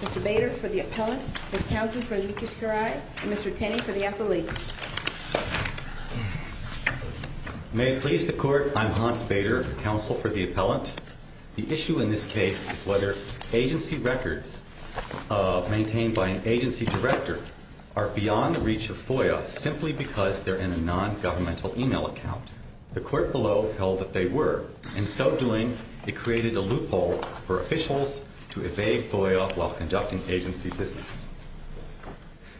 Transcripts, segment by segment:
Mr. Bader for the appellant, Ms. Townsend for the medicare and Mr. Tenney for the appellate. May it please the Court, I'm Hans Bader, counsel for the appellant. The issue in this case is whether agency records maintained by an agency director are beyond the reach of FOIA, and the agency records are not in the FOIA. Simply because they're in a non-governmental email account, the Court below held that they were, and so doing, it created a loophole for officials to evade FOIA while conducting agency business.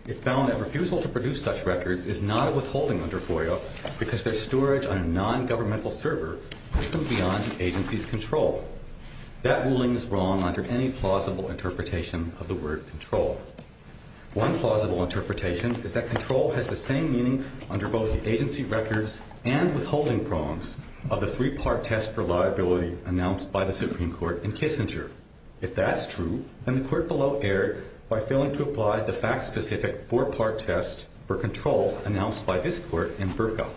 It found that refusal to produce such records is not a withholding under FOIA because their storage on a non-governmental server isn't beyond the agency's control. That ruling is wrong under any plausible interpretation of the word control. One plausible interpretation is that control has the same meaning under both the agency records and withholding prongs of the three-part test for liability announced by the Supreme Court in Kissinger. If that's true, then the Court below erred by failing to apply the fact-specific four-part test for control announced by this Court in Berkow.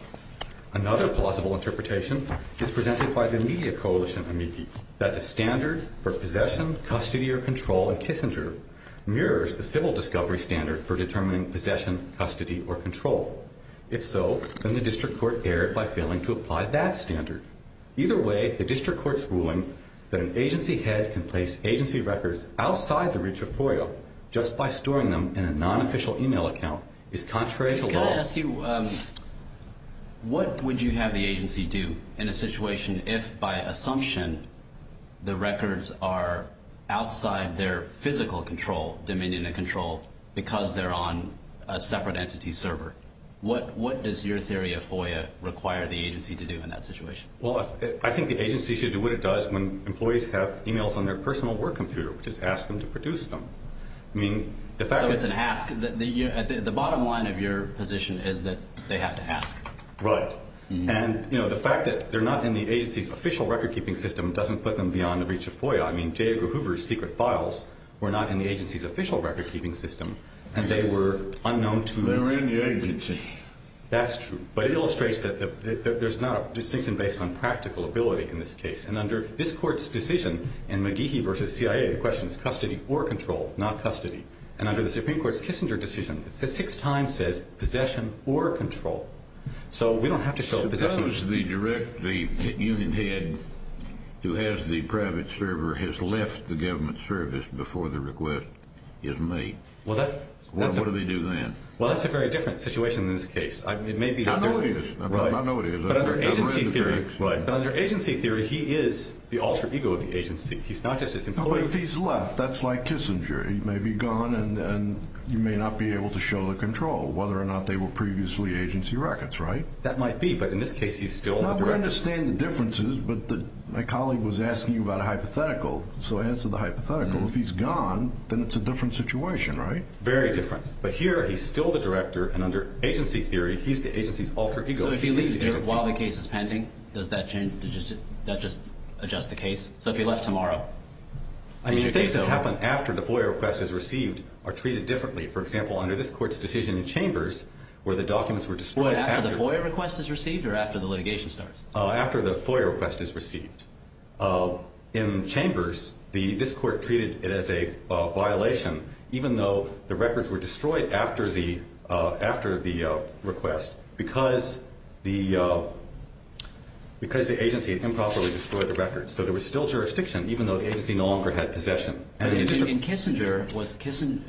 Another plausible interpretation is presented by the media coalition, AMICI, that the standard for possession, custody, or control in Kissinger mirrors the civil discovery standard for determining possession, custody, or control. If so, then the District Court erred by failing to apply that standard. Either way, the District Court's ruling that an agency head can place agency records outside the reach of FOIA just by storing them in a non-official email account is contrary to law. What would you have the agency do in a situation if, by assumption, the records are outside their physical control, dominion and control, because they're on a separate entity server? What does your theory of FOIA require the agency to do in that situation? Well, I think the agency should do what it does when employees have emails on their personal work computer, which is ask them to produce them. So it's an ask. The bottom line of your position is that they have to ask. Right. And, you know, the fact that they're not in the agency's official record-keeping system doesn't put them beyond the reach of FOIA. I mean, J. Edgar Hoover's secret files were not in the agency's official record-keeping system, and they were unknown to... They're in the agency. That's true. But it illustrates that there's not a distinction based on practical ability in this case. And under this Court's decision in McGehee v. C.I.A., the question is custody or control, not custody. And under the Supreme Court's Kissinger decision, it says six times, it says possession or control. So we don't have to show a position... Suppose the union head who has the private server has left the government service before the request is made. Well, that's... What do they do then? Well, that's a very different situation in this case. I mean, it may be... I know it is. I know it is. But under agency theory... Right. But under agency theory, he is the alter ego of the agency. He's not just his employee... No, but if he's left, that's like Kissinger. He may be gone, and you may not be able to show the control, whether or not they were previously agency records, right? That might be, but in this case, he's still the director. Well, we understand the differences, but my colleague was asking about a hypothetical. So I answered the hypothetical. If he's gone, then it's a different situation, right? Very different. But here, he's still the director, and under agency theory, he's the agency's alter ego. So if he leaves while the case is pending, does that change? Does that just adjust the case? So if he left tomorrow... I mean, things that happen after the FOIA request is received are treated differently. For example, under this Court's decision in Chambers, where the documents were destroyed... After the FOIA request is received. In Chambers, this Court treated it as a violation, even though the records were destroyed after the request because the agency had improperly destroyed the records. So there was still jurisdiction, even though the agency no longer had possession. In Kissinger,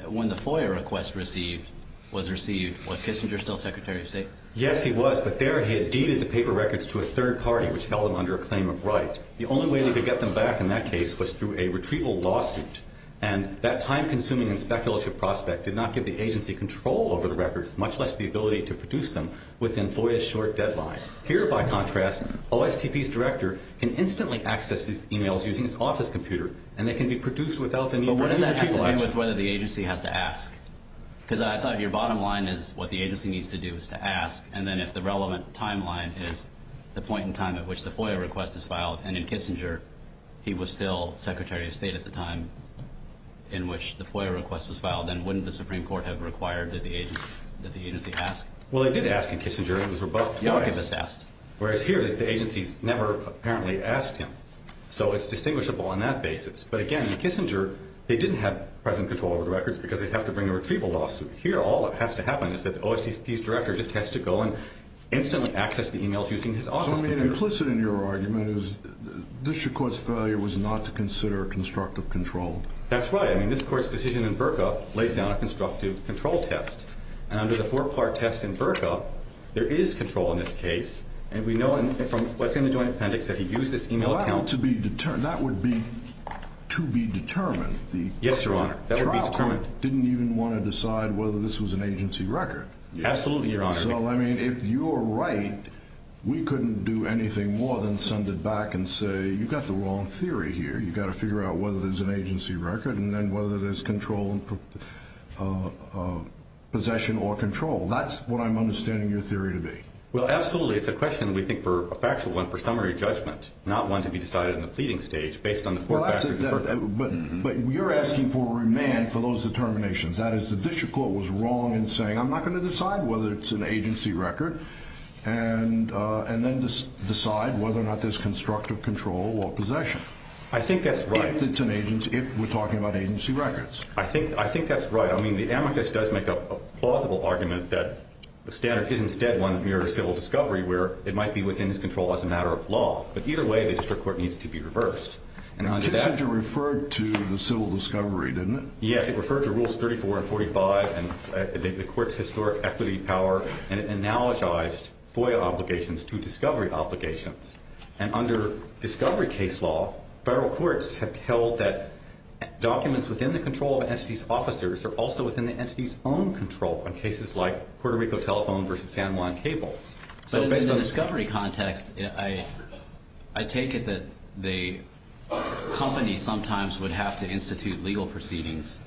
when the FOIA request was received, was Kissinger still Secretary of State? Yes, he was, but there he had deeded the paper records to a third party, which held them under a claim of right. The only way they could get them back in that case was through a retrieval lawsuit, and that time-consuming and speculative prospect did not give the agency control over the records, much less the ability to produce them within FOIA's short deadline. Here, by contrast, OSTP's director can instantly access these emails using his office computer, and they can be produced without the need for any retrieval action. But what does that have to do with whether the agency has to ask? Because I thought your bottom line is what the agency needs to do is to ask, and then if the relevant timeline is the point in time at which the FOIA request is filed, and in Kissinger, he was still Secretary of State at the time in which the FOIA request was filed, then wouldn't the Supreme Court have required that the agency ask? Well, they did ask in Kissinger. It was rebuffed twice. The archivist asked. Whereas here, the agency's never apparently asked him, so it's distinguishable on that basis. But again, in Kissinger, they didn't have present control over the records because they'd have to bring a retrieval lawsuit. Here, all that has to happen is that the OSTP's director just has to go and instantly access the emails using his office computer. So, I mean, implicit in your argument is this Court's failure was not to consider constructive control. That's right. I mean, this Court's decision in Burka lays down a constructive control test, and under the four-part test in Burka, there is control in this case, and we know from what's in the Joint Appendix that he used this email account. Well, that would be to be determined. Yes, Your Honor. The trial court didn't even want to decide whether this was an agency record. Absolutely, Your Honor. So, I mean, if you're right, we couldn't do anything more than send it back and say, you've got the wrong theory here. You've got to figure out whether there's an agency record and then whether there's control in possession or control. That's what I'm understanding your theory to be. Well, absolutely. It's a question, we think, for a factual one for summary judgment, not one to be decided in the pleading stage based on the four factors in Burka. But you're asking for remand for those determinations. That is, the District Court was wrong in saying, I'm not going to decide whether it's an agency record and then decide whether or not there's constructive control or possession. I think that's right. If we're talking about agency records. I think that's right. I mean, the amicus does make a plausible argument that the standard is instead one's mere civil discovery where it might be within his control as a matter of law. But either way, the District Court needs to be It referred to the civil discovery, didn't it? Yes, it referred to rules 34 and 45 and the court's historic equity power and it analogized FOIA obligations to discovery obligations. And under discovery case law, federal courts have held that documents within the control of an entity's officers are also within the entity's own control on cases like Puerto Rico Telephone versus San Juan Cable. But in the discovery context, I take it that the agency sometimes would have to institute legal proceedings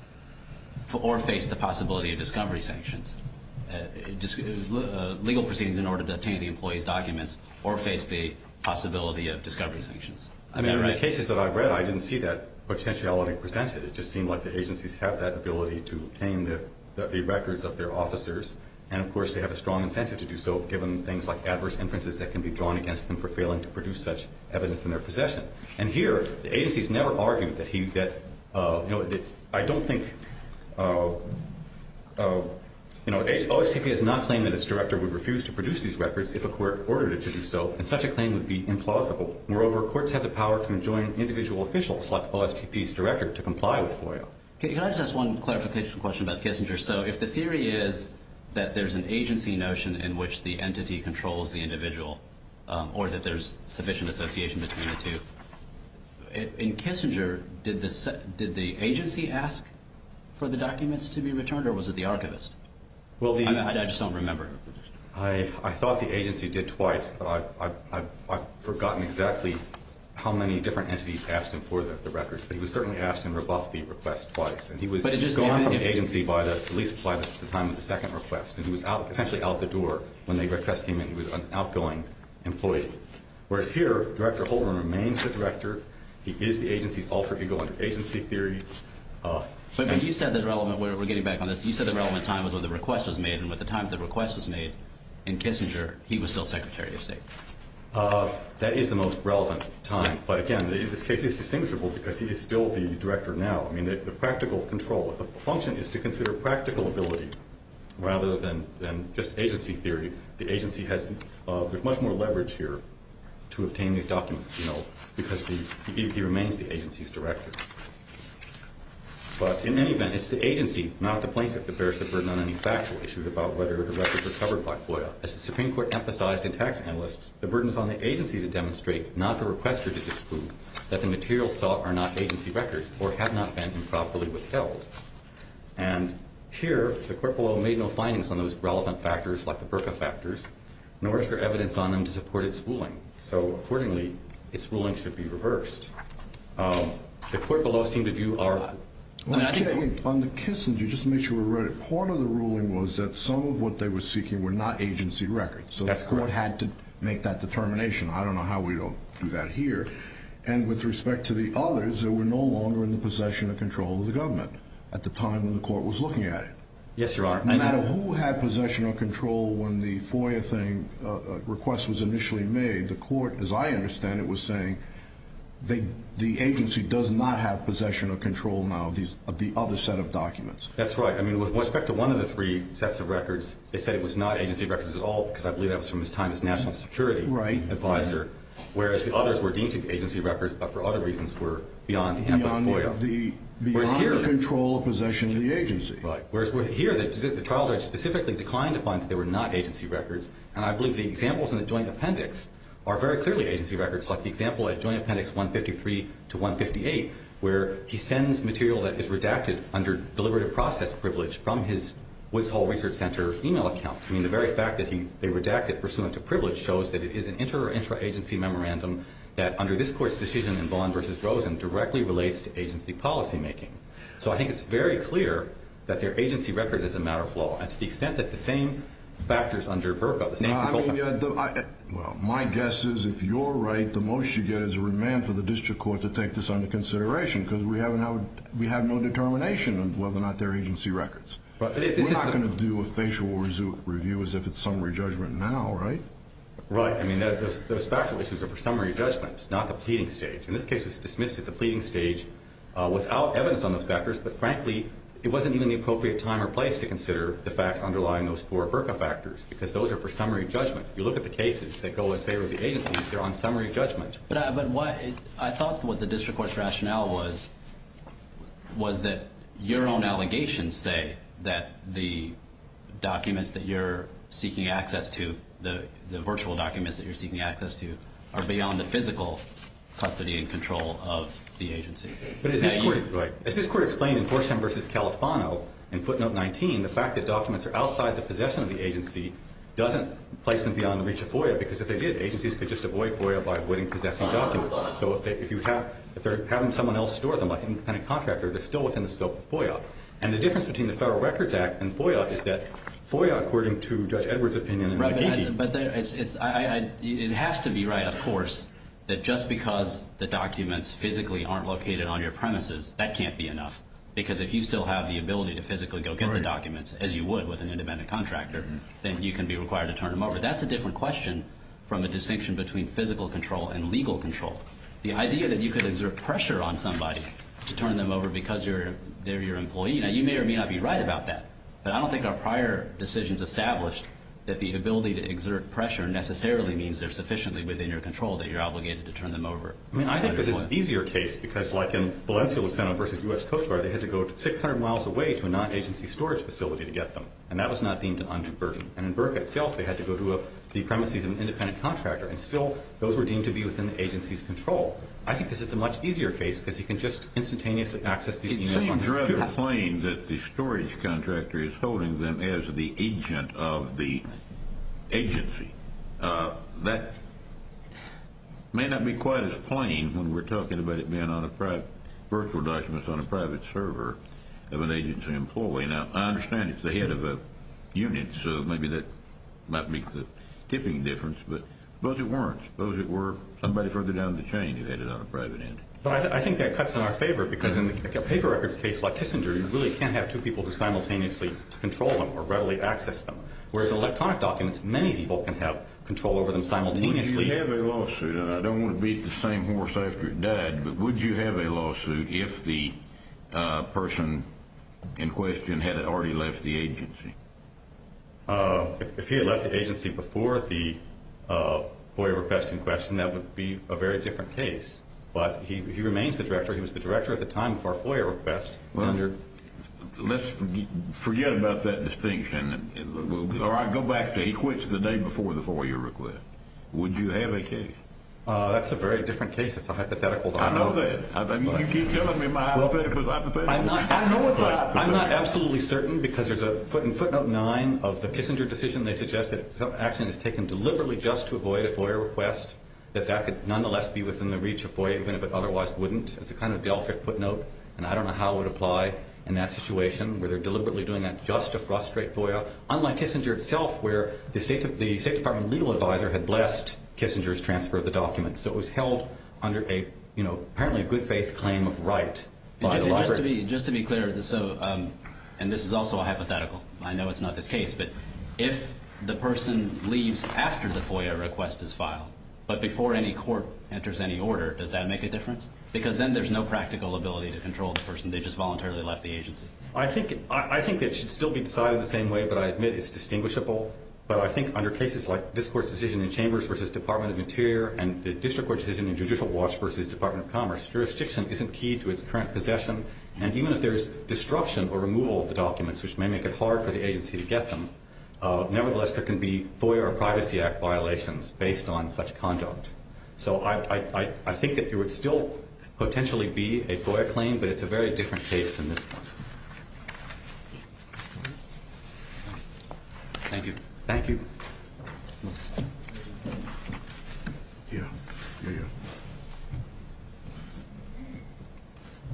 or face the possibility of discovery sanctions. Legal proceedings in order to obtain the employee's documents or face the possibility of discovery sanctions. I mean, in the cases that I've read, I didn't see that potentiality presented. It just seemed like the agencies have that ability to obtain the records of their officers. And of course, they have a strong incentive to do so, given things like adverse inferences that can be drawn against them for failing to produce such evidence in their possession. And here, the agency's never argued that I don't think OSTP has not claimed that its director would refuse to produce these records if a court ordered it to do so and such a claim would be implausible. Moreover, courts have the power to enjoin individual officials like OSTP's director to comply with FOIA. Can I just ask one clarification question about Kissinger? So if the theory is that there's an agency notion in which the entity controls the individual or that there's sufficient association between the two, in Kissinger, did the agency ask for the documents to be returned or was it the archivist? I just don't remember. I thought the agency did twice, but I've forgotten exactly how many different entities asked him for the records. But he was certainly asked and rebuffed the request twice. And he was gone from the agency by the police by the time of the second request. And he was essentially out the door when the request came in. He was an agent. So here, Director Holdren remains the director. He is the agency's alter ego under agency theory. But you said the relevant, we're getting back on this, you said the relevant time was when the request was made. And by the time the request was made in Kissinger, he was still Secretary of State. That is the most relevant time. But again, this case is distinguishable because he is still the director now. I mean, the practical control of the function is to consider practical ability rather than just agency theory. The agency has much more leverage here to obtain these documents because he remains the agency's director. But in any event, it's the agency, not the plaintiff, that bears the burden on any factual issues about whether the records were covered by FOIA. As the Supreme Court emphasized in tax analysts, the burden is on the agency to demonstrate, not the requester to disprove, that the materials sought are not agency records or have not been improperly withheld. And here, the court below made no findings on those relevant factors like the BRCA factors, nor is there evidence on them to support its ruling. So accordingly, its ruling should be reversed. The court below seemed to view our... Part of the ruling was that some of what they were seeking were not agency records. So the court had to make that determination. I don't know how we don't do that here. And with respect to the others, they were no longer in the possession or control of the government at the time when the court was looking at it. Yes, Your Honor. No matter who had possession or control when the FOIA thing request was initially made, the court, as I understand it, was saying the agency does not have possession or control now of the other set of documents. That's right. With respect to one of the three sets of records, they said it was not agency records at all because I believe that was from his time as National Security Advisor, whereas the others were deemed to be agency records, but for other reasons were beyond the FOIA. Beyond the control or possession of the agency. Whereas here, the trial judge specifically declined to find that they were not agency records, and I believe the examples in the joint appendix are very clearly agency records, like the example at Joint Appendix 153 to 158 where he sends material that is redacted under deliberative process privilege from his Woods Hole Research Center email account. I mean, the very fact that they redact it pursuant to privilege shows that it is an inter- or intra-agency memorandum that under this Court's decision in Vaughan v. Rosen directly relates to agency policy making. So I think it's very clear that they're agency records is a matter of law and to the extent that the same factors under BRCA, the same control... Well, my guess is if you're right, the motion you get is a remand for the District Court to take this under consideration because we have no determination of whether or not they're agency records. We're not going to do a facial review as if it's summary judgment now, right? Right. I mean, those factual issues are for summary judgment, not the pleading stage. In this case, it's dismissed at the pleading stage without evidence on those factors, but frankly, it wasn't even the appropriate time or place to consider the facts underlying those four BRCA factors because those are for summary judgment. You look at the cases that go in favor of the agencies, they're on summary judgment. But I thought what the District Court's rationale was was that your own allegations say that the documents that you're seeking access to, the virtual documents that you're seeking access to, are beyond the physical custody and control of the agency. But is this court... Right. Is this court explained in Forsham v. Califano, in footnote 19, the fact that documents are outside the possession of the agency doesn't place them beyond the reach of FOIA because if they did, agencies could just avoid FOIA by avoiding possessing documents. So if they're having someone else store them, like an independent contractor, they're still within the scope of FOIA. And the difference between the Federal Records Act and FOIA is that FOIA, according to Judge Edwards' opinion... Right, but it has to be right, of course, that just because the documents physically aren't located on your premises, that can't be enough. Because if you still have the ability to physically go get the documents, as you would with an independent contractor, then you can be required to turn them over. That's a different question from the distinction between physical control and legal control. The idea that you could exert pressure on somebody to turn them over because they're your employee, now you may or may not be right about that. But I don't think our prior decisions established that the ability to exert pressure necessarily means they're sufficiently within your control that you're obligated to turn them over. I mean, I think this is an easier case, because like in Valencia-Luceno v. U.S. Coast Guard, they had to go 600 miles away to a non-agency storage facility to get them. And that was not deemed an undue burden. And in Burke itself, they had to go to the premises of an independent contractor, and still those were deemed to be within the agency's control. I think this is a much easier case because you can just instantaneously access these emails... It seems rather plain that the storage contractor is holding them as the agent of the agency. That may not be quite as plain when we're talking about it being on a virtual document on a private server of an agency employee. Now, I understand it's the head of a unit, so maybe that might make the tipping difference, but suppose it weren't. Suppose it were somebody further down the chain who had it on a private entity. But I think that cuts in our favor, because in a paper records case like Kissinger, you really can't have two people who simultaneously control them or readily access them. Whereas electronic documents, many people can have control over them simultaneously. Would you have a lawsuit, and I don't want to beat the same horse after it died, but would you have a lawsuit if the person in question had already left the agency? If he had left the agency before the FOIA request in question, that would be a very different case. But he remains the director. He was the director at the time of our FOIA request. Let's forget about that distinction, or I go back to he quit the day before the FOIA request. Would you have a case? That's a very different case. It's a hypothetical. I know that. You keep telling me my hypothetical is hypothetical. I'm not absolutely certain, because there's a footnote 9 of the Kissinger decision. They suggest that some action is taken deliberately just to avoid a FOIA request, that that could nonetheless be within the reach of FOIA, even if it otherwise wouldn't. It's a kind of Delphic footnote, and I don't know how it would apply in that situation where they're deliberately doing that just to frustrate FOIA, unlike Kissinger itself, where the State Department legal advisor had blessed Kissinger's transfer of the document. So it was held under apparently a good faith claim of right by the library. Just to be clear, and this is also a hypothetical. I know it's not this case, but if the person leaves after the FOIA request is filed, but before any court enters any different, because then there's no practical ability to control the person. They just voluntarily left the agency. I think it should still be decided the same way, but I admit it's distinguishable. But I think under cases like this Court's decision in Chambers versus Department of Interior, and the District Court decision in Judicial Watch versus Department of Commerce, jurisdiction isn't key to its current possession, and even if there's destruction or removal of the documents, which may make it hard for the agency to get them, nevertheless, there can be FOIA or Privacy Act violations based on such conduct. So I think that there would still potentially be a FOIA claim, but it's a very different case than this one. Thank you. Yeah.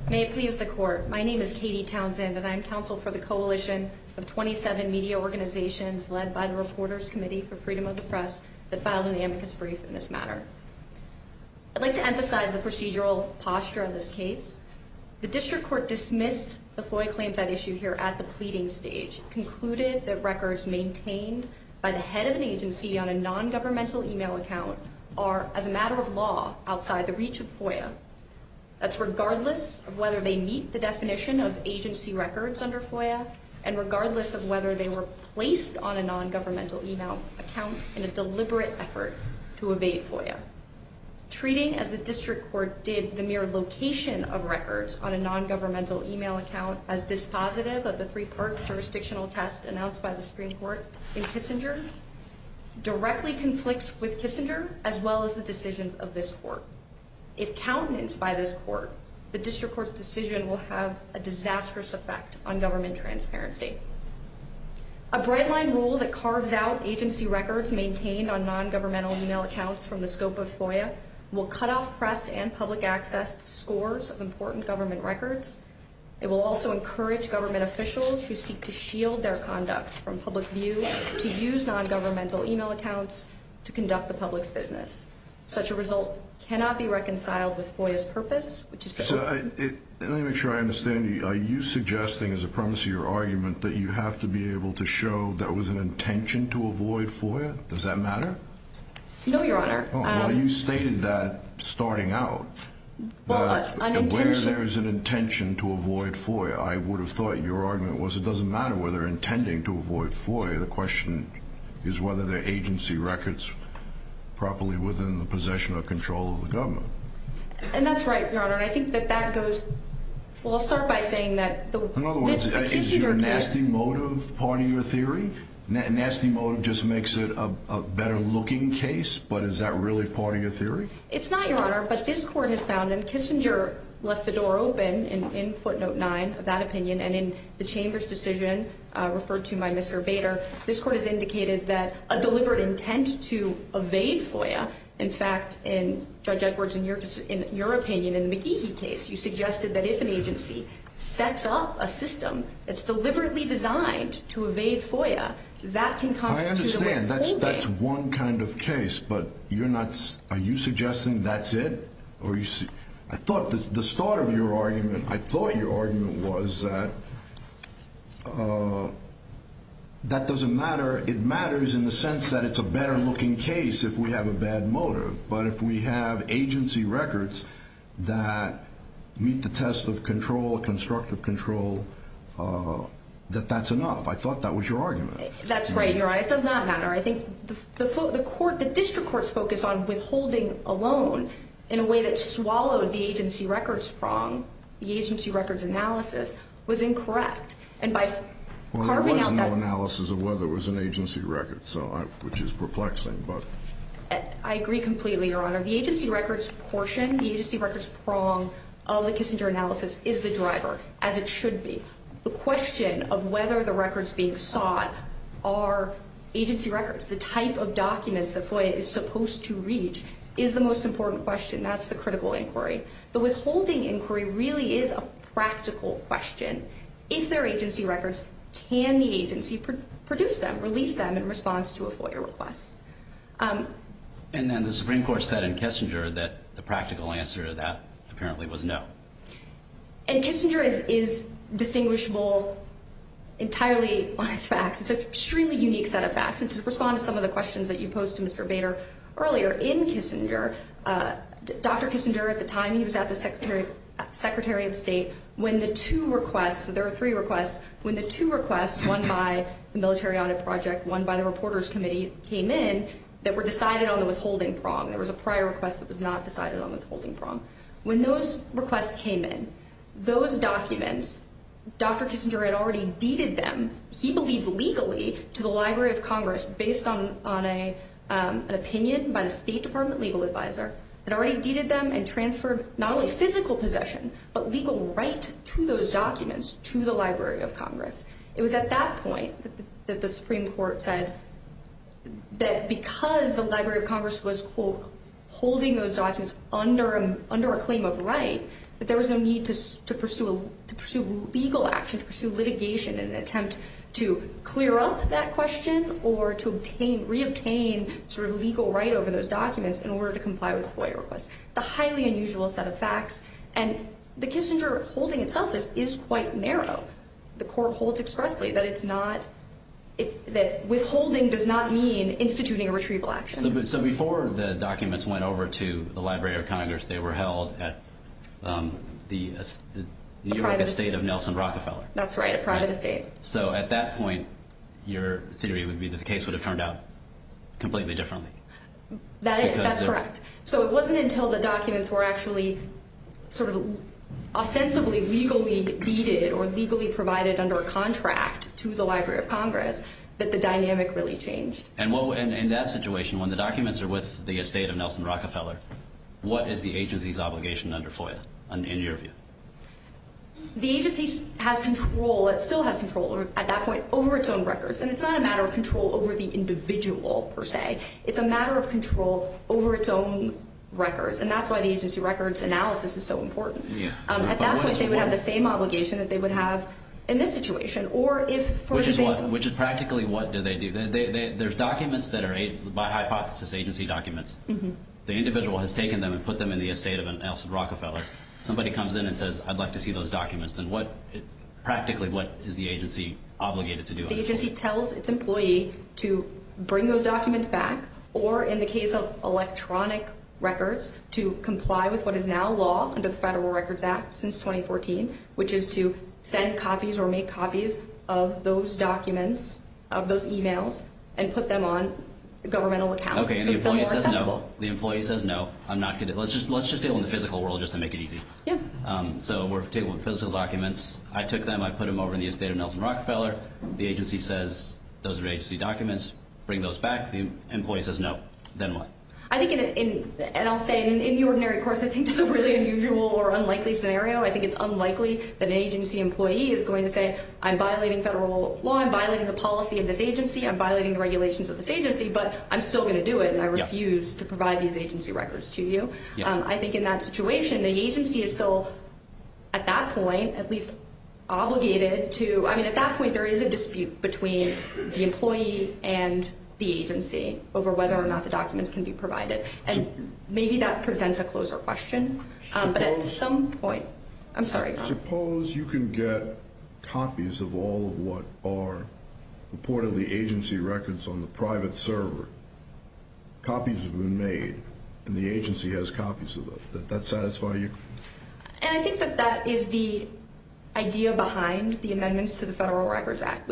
May it please the Court. My name is Katie Townsend, and I'm counsel for the Coalition of 27 Media Organizations led by the Reporters Committee for Freedom of the Press that filed an amicus brief in this matter. I'd like to emphasize the procedural posture of this case. The District Court dismissed the FOIA claims at issue here at the pleading stage, concluded that records maintained by the head of an agency on a non-governmental email account are, as a matter of law, outside the reach of FOIA. That's regardless of whether they meet the definition of agency records under FOIA, and regardless of whether they were placed on a non-governmental email account in a deliberate effort to evade FOIA. Treating as the District Court did the mere location of records on a non-governmental email account as dispositive of the three-part jurisdictional test announced by the Supreme Court in Kissinger directly conflicts with Kissinger as well as the decisions of this Court. If countenanced by this Court, the District Court's decision will have a disastrous effect on government transparency. A bright-line rule that carves out agency records maintained on non-governmental email accounts from the scope of FOIA will cut off press and public access to scores of important government records. It will also encourage government officials who seek to shield their conduct from public view to use non-governmental email accounts to conduct the public's business. Such a result cannot be reconciled with FOIA's purpose, which is to... Let me make sure I understand. Are you suggesting, as a premise of your argument, that you have to be able to show there was an intention to avoid FOIA? Does that matter? No, Your Honor. Well, you stated that starting out. Well, an intention... Where there is an intention to avoid FOIA, I would have thought your argument was it doesn't matter whether they're intending to avoid FOIA. The question is whether their agency records properly within the possession or control of the government. And that's right, Your Honor, and I think that that goes... Well, I'll start by saying that the Kissinger case... In other words, is your nasty motive part of your theory? Nasty motive just makes it a better-looking case, but is that really part of your theory? It's not, Your Honor, but this Court has found and Kissinger left the door open in footnote 9 of that opinion and in the Chamber's decision referred to by Mr. Bader, this Court has indicated that a deliberate intent to evade FOIA in fact, Judge Edwards, in your opinion, in the McGehee case, you suggested that if an agency sets up a system that's deliberately designed to evade FOIA, that can constitute a way of holding... I understand. That's one kind of case, but you're not... Are you suggesting that's it? I thought the start of your argument... I thought your argument was that that doesn't matter. It matters in the sense that it's a better-looking case if we have a bad motive, but if we have agency records that meet the test of control, constructive control, that that's enough. I thought that was your argument. That's right, Your Honor. It does not matter. I think the District Court's focus on withholding a loan in a way that swallowed the agency records from the agency records analysis was incorrect, and by carving out that... Well, there was no analysis of whether it was an agency record, which is perplexing, but... I agree completely, Your Honor. The agency records portion, the agency records prong of the Kissinger analysis is the driver, as it should be. The question of whether the records being sought are agency records, the type of documents that FOIA is supposed to reach, is the most important question. That's the critical inquiry. The withholding inquiry really is a practical question. If they're agency records, can the agency produce them, release them in response to a FOIA request? And then the Supreme Court said in Kissinger that the practical answer to that apparently was no. And Kissinger is distinguishable entirely on its facts. It's an extremely unique set of facts, and to respond to some of the questions that you posed to Mr. Bader earlier, in Kissinger, Dr. Kissinger at the time, he was at the Secretary of State, when the two requests, there were three requests, when the two requests, one by the Military Audit Project, one by the Reporters Committee, came in, that were decided on the withholding prong. There was a prior request that was not decided on the withholding prong. When those requests came in, those documents, Dr. Kissinger had already deeded them, he believed legally, to the Library of Congress based on an opinion by the State Department legal advisor, had already deeded them and transferred not only physical possession, but legal right to those documents to the Library of Congress. It was at that point that the Supreme Court said that because the Library of Congress was, quote, holding those documents under a claim of right, that there was no need to pursue legal action, to pursue litigation in an attempt to clear up that question or to reobtain legal right over those documents in order to comply with FOIA requests. The highly unusual set of rules that the Court holds itself is quite narrow. The Court holds expressly that withholding does not mean instituting a retrieval action. So before the documents went over to the Library of Congress they were held at the New York estate of Nelson Rockefeller. That's right, a private estate. So at that point your theory would be that the case would have turned out completely differently. That's correct. So it wasn't until the documents were actually sort of ostensibly legally deeded or legally provided under a contract to the Library of Congress that the dynamic really changed. And in that situation, when the documents are with the estate of Nelson Rockefeller, what is the agency's obligation under FOIA, in your view? The agency has control, it still has control at that point, over its own records. And it's not a matter of control over the individual per se. It's a matter of control over its own records. And that's why the agency records analysis is so important. At that point they would have the same obligation that they would have in this situation. Which is practically what do they do? There's documents that are hypothesis agency documents. The individual has taken them and put them in the estate of Nelson Rockefeller. Somebody comes in and says, I'd like to see those documents. Practically what is the agency obligated to do? The agency tells its employee to bring those documents back, or in the case of electronic records, to comply with what is now law under the Federal Records Act since 2014, which is to send copies or make copies of those documents, of those emails, and put them on a governmental account to make them more accessible. The employee says no. Let's just deal with the physical world just to make it easy. So we're dealing with physical documents. I took them, I put them over in the estate of Nelson Rockefeller. The agency says, those are agency documents, bring those back. The employee says no. Then what? In the ordinary course, I think that's a really unusual or unlikely scenario. I think it's unlikely that an agency employee is going to say, I'm violating federal law, I'm violating the policy of this agency, I'm violating the regulations of this agency, but I'm still going to do it and I refuse to provide these agency records to you. I think in that situation, the agency is still, at that point, at least obligated to, I mean at that point there is a dispute between the employee and the agency over whether or not the documents can be provided. And maybe that presents a closer question. But at some point, I'm sorry Ron. Suppose you can get copies of all of what are purportedly agency records on the private server. Copies have been made and the agency has copies of them. Does that satisfy you? And I think that that is the idea behind the amendments to the Federal Records Act.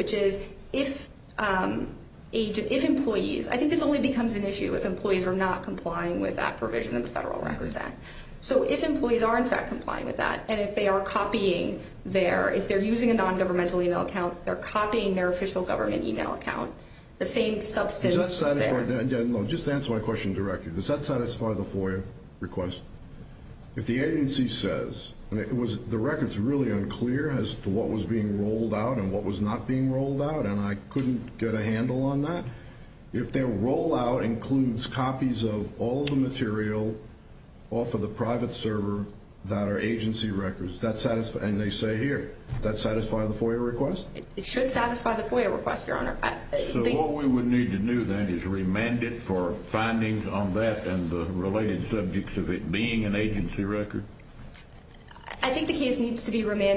If employees, I think this only becomes an issue if employees are not complying with that provision in the Federal Records Act. So if employees are in fact complying with that and if they are copying their, if they're using a non-governmental email account, they're copying their official government email account, the same substance is there. Does that satisfy, just to answer my question directly, does that satisfy the FOIA request? If the agency says the record is really unclear as to what was being rolled out and what was not being rolled out and I couldn't get a handle on that, if their rollout includes copies of all the material off of the private server that are agency records, and they say here, does that satisfy the FOIA request? It should satisfy the FOIA request, Your Honor. So what we would need to do then is remand it for findings on that and the related subjects of it being an agency record? I think the case needs to be remanded.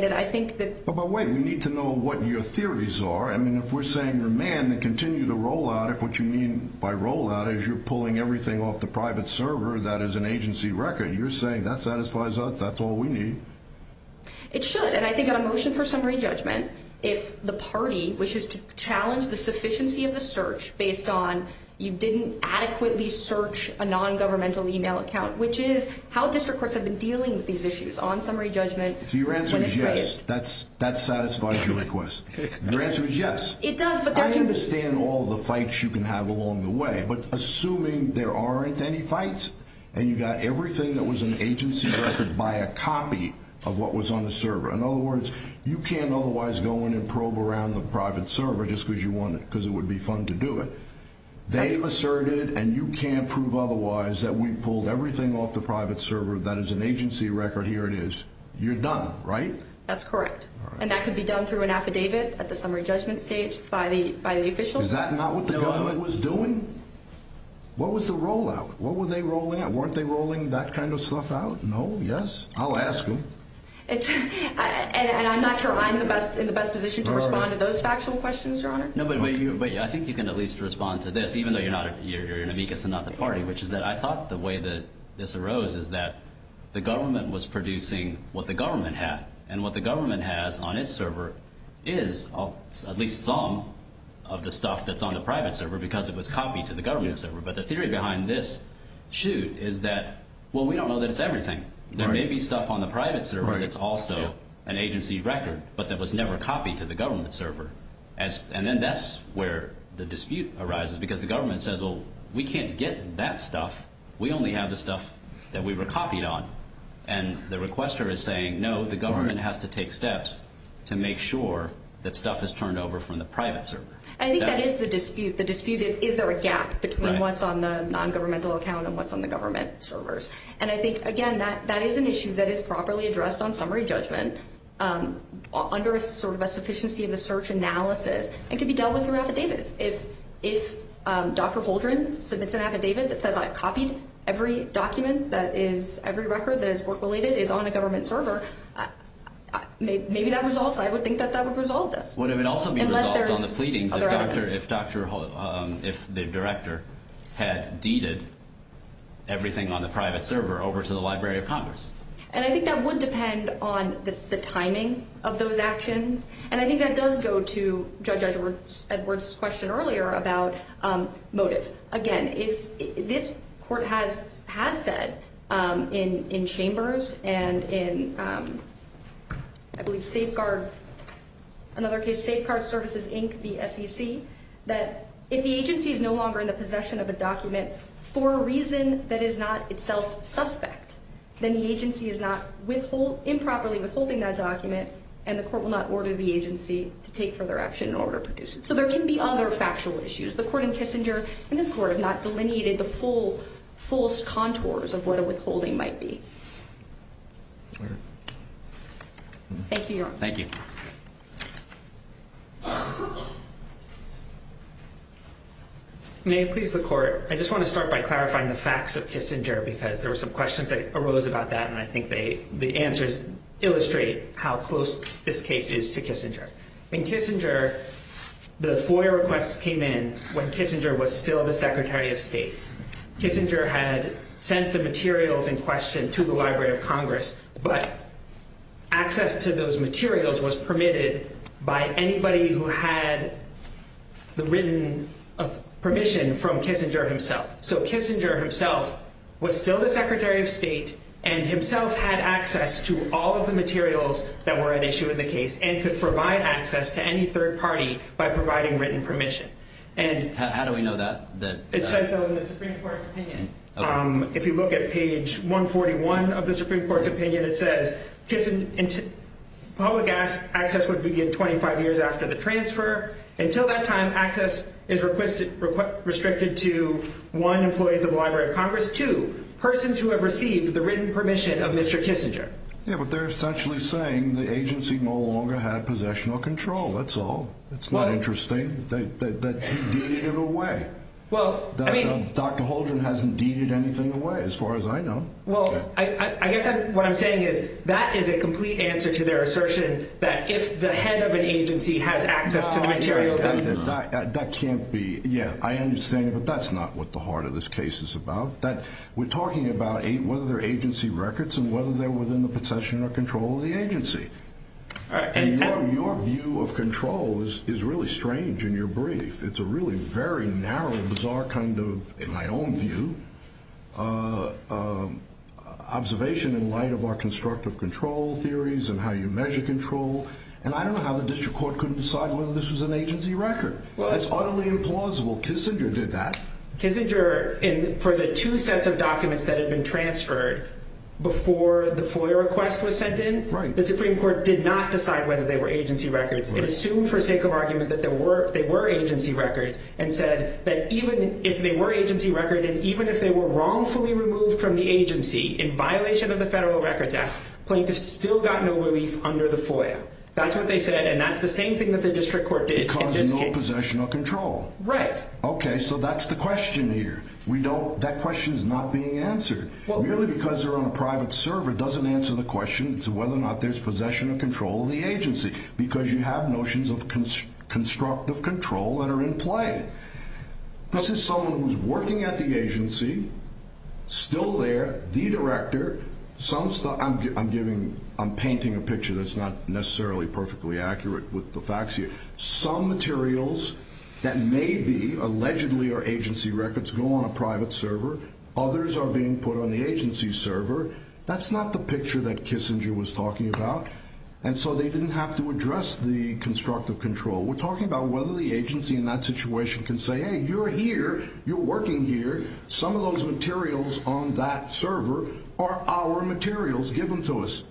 But wait, we need to know what your theories are. I mean, if we're saying remand and continue the rollout, if what you mean by rollout is you're pulling everything off the private server that is an agency record, you're saying that satisfies us, that's all we need? It should. And I think on a motion for summary judgment, if the party wishes to challenge the sufficiency of the search based on you didn't adequately search a non-governmental email account, which is how district courts have been dealing with these issues on the FOIA request, that satisfies your request. Your answer is yes. I understand all the fights you can have along the way, but assuming there aren't any fights, and you got everything that was an agency record by a copy of what was on the server. In other words, you can't otherwise go in and probe around the private server just because it would be fun to do it. They've asserted, and you can't prove otherwise that we pulled everything off the private server that is an agency record. Here it is. You're done, right? That's correct. And that could be done through an affidavit at the summary judgment stage by the official. Is that not what the government was doing? What was the rollout? What were they rolling out? Weren't they rolling that kind of stuff out? No? Yes? I'll ask them. And I'm not sure I'm in the best position to respond to those factual questions, Your Honor. No, but I think you can at least respond to this, even though you're an amicus and not the party, which is that I thought the way that this arose is that the government was producing what the government had, and what the government has on its server is at least some of the stuff that's on the private server because it was copied to the government server. But the theory behind this shoot is that, well, we don't know that it's everything. There may be stuff on the private server that's also an agency record, but that was never copied to the government server. And then that's where the dispute arises, because the government says, well, we can't get that stuff. We only have the stuff that we were copied on. And the requester is saying, no, the government has to take steps to make sure that stuff is turned over from the private server. And I think that is the dispute. The dispute is is there a gap between what's on the nongovernmental account and what's on the government servers? And I think, again, that is an issue that is properly addressed on summary judgment under a sort of a sufficiency of a search analysis and can be dealt with through affidavits. If Dr. Holdren submits an affidavit that says I've copied every document that is every record that is work-related is on the government server, maybe that resolves. I would think that that would resolve this. Would it also be resolved on the pleadings if the director had deeded everything on the private server over to the Library of Congress? And I think that would depend on the timing of those actions. And I think that does go to Judge Edwards' question earlier about motive. Again, this Court has said in Chambers and in I believe Safeguard Services, Inc., the SEC, that if the agency is no longer in the possession of a document for a reason that is not itself suspect, then the agency is not improperly withholding that document and the Court will not order the agency to take further action in order to produce it. So there can be other factual issues. The Court and Kissinger and this Court have not delineated the full contours of what a withholding might be. Thank you, Your Honor. Thank you. May it please the Court, I just want to start by clarifying the facts of Kissinger because there were some questions that arose about that and I think the answers illustrate how close this case is to Kissinger. In Kissinger, the FOIA requests came in when Kissinger was still the Secretary of State. Kissinger had sent the materials in question to the Library of Congress, but access to those materials was permitted by anybody who had the written permission from Kissinger himself. So Kissinger himself was still the Secretary of State and himself had access to all of the materials that were at issue in the case and could provide access to any third party by providing written permission. How do we know that? It says so in the Supreme Court's opinion. If you look at page 141 of the Supreme Court's opinion, it says public access would begin 25 years after the transfer. Until that time, access is restricted to, one, employees of the Library of Congress, two, persons who have written permission of Mr. Kissinger. Yeah, but they're essentially saying the agency no longer had possession or control. That's all. It's not interesting that he deeded it away. Well, I mean... Dr. Holdren hasn't deeded anything away, as far as I know. Well, I guess what I'm saying is that is a complete answer to their assertion that if the head of an agency has access to the material... That can't be... Yeah, I understand, but that's not what the heart of this case is about. We're talking about whether they're agency records and whether they're within the possession or control of the agency. And your view of control is really strange in your brief. It's a really very narrow, bizarre kind of, in my own view, observation in light of our constructive control theories and how you measure control. And I don't know how the district court couldn't decide whether this was an agency record. That's utterly implausible. Kissinger did that. Kissinger, for the two sets of documents that had been transferred before the FOIA request was sent in, the Supreme Court did not decide whether they were agency records. It assumed, for sake of argument, that they were agency records and said that even if they were agency records and even if they were wrongfully removed from the agency in violation of the Federal Records Act, plaintiffs still got no relief under the FOIA. That's what they said, and that's the same thing that the district court did in this case. Because no possession or control. Right. Okay, so that's the question here. We don't, that question is not being answered. Merely because they're on a private server doesn't answer the question as to whether or not there's possession or control of the agency. Because you have notions of constructive control that are in play. This is someone who's working at the agency, still there, the director, some stuff, I'm giving, I'm painting a picture that's not necessarily perfectly accurate with the facts here. Some materials that may be allegedly are agency records go on a private server. Others are being put on the agency server. That's not the picture that Kissinger was talking about. And so they didn't have to address the constructive control. We're talking about whether the agency in that situation can say, hey, you're here, you're working here, some of those materials on that server are our materials given to us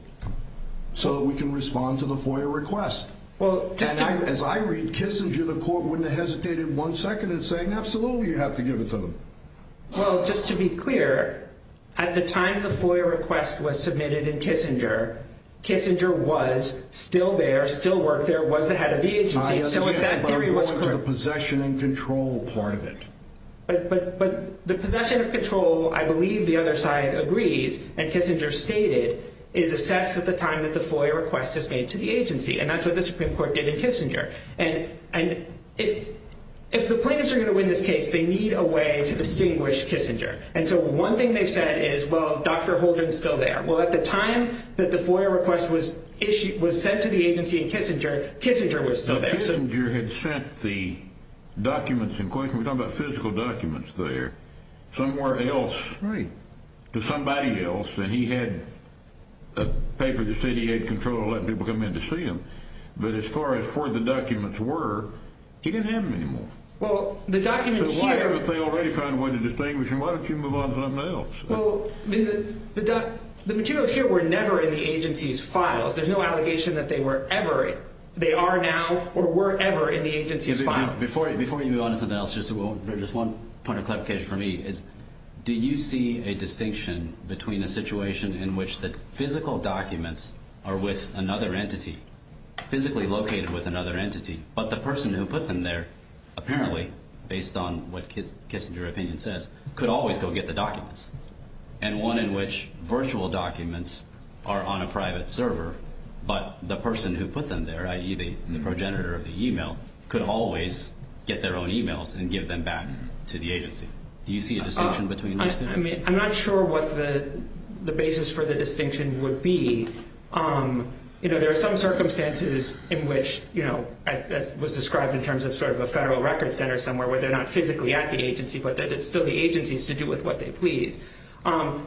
so that we can respond to the FOIA request. As I read Kissinger, the court wouldn't have hesitated one second in saying, absolutely, you have to give it to them. Well, just to be clear, at the time the FOIA request was submitted in Kissinger, Kissinger was still there, still worked there, was the head of the agency. I understand, but I'm going to the possession and control part of it. But the possession of control, I believe the other side agrees, and Kissinger stated, is assessed at the time that the FOIA request is made to the agency. And that's what the Supreme Court did in Kissinger. And if the plaintiffs are going to win this case, they need a way to distinguish Kissinger. And so one thing they've said is, well, Dr. Holdren's still there. Well, at the time that the FOIA request was sent to the agency in Kissinger, Kissinger was still there. Kissinger had sent the documents in question, we're talking about physical documents there, somewhere else, to somebody else, and he had a paper that said he had control to let people come in to see them. But as far as where the documents were, he didn't have them anymore. So why haven't they already found a way to distinguish him? Why don't you move on to something else? Well, the materials here were never in the agency's files. There's no allegation that they were ever, they are now, or were ever in the agency's files. Before you move on to something else, just one point of clarification for me is, do you see a distinction between a situation in which the physical documents are with another entity, physically located with another entity, but the person who put them there, apparently, based on what Kissinger's opinion says, could always go get the documents, and one in which virtual documents are on a private server, but the person who put them there, i.e. the progenitor of the email, could always get their own emails and give them back to the agency. Do you see a distinction between those two? I mean, I'm not sure what the basis for the distinction would be. You know, there are some circumstances in which, you know, as was described in terms of sort of a federal record center somewhere where they're not physically at the agency, but that it's still the agency's to do with what they please.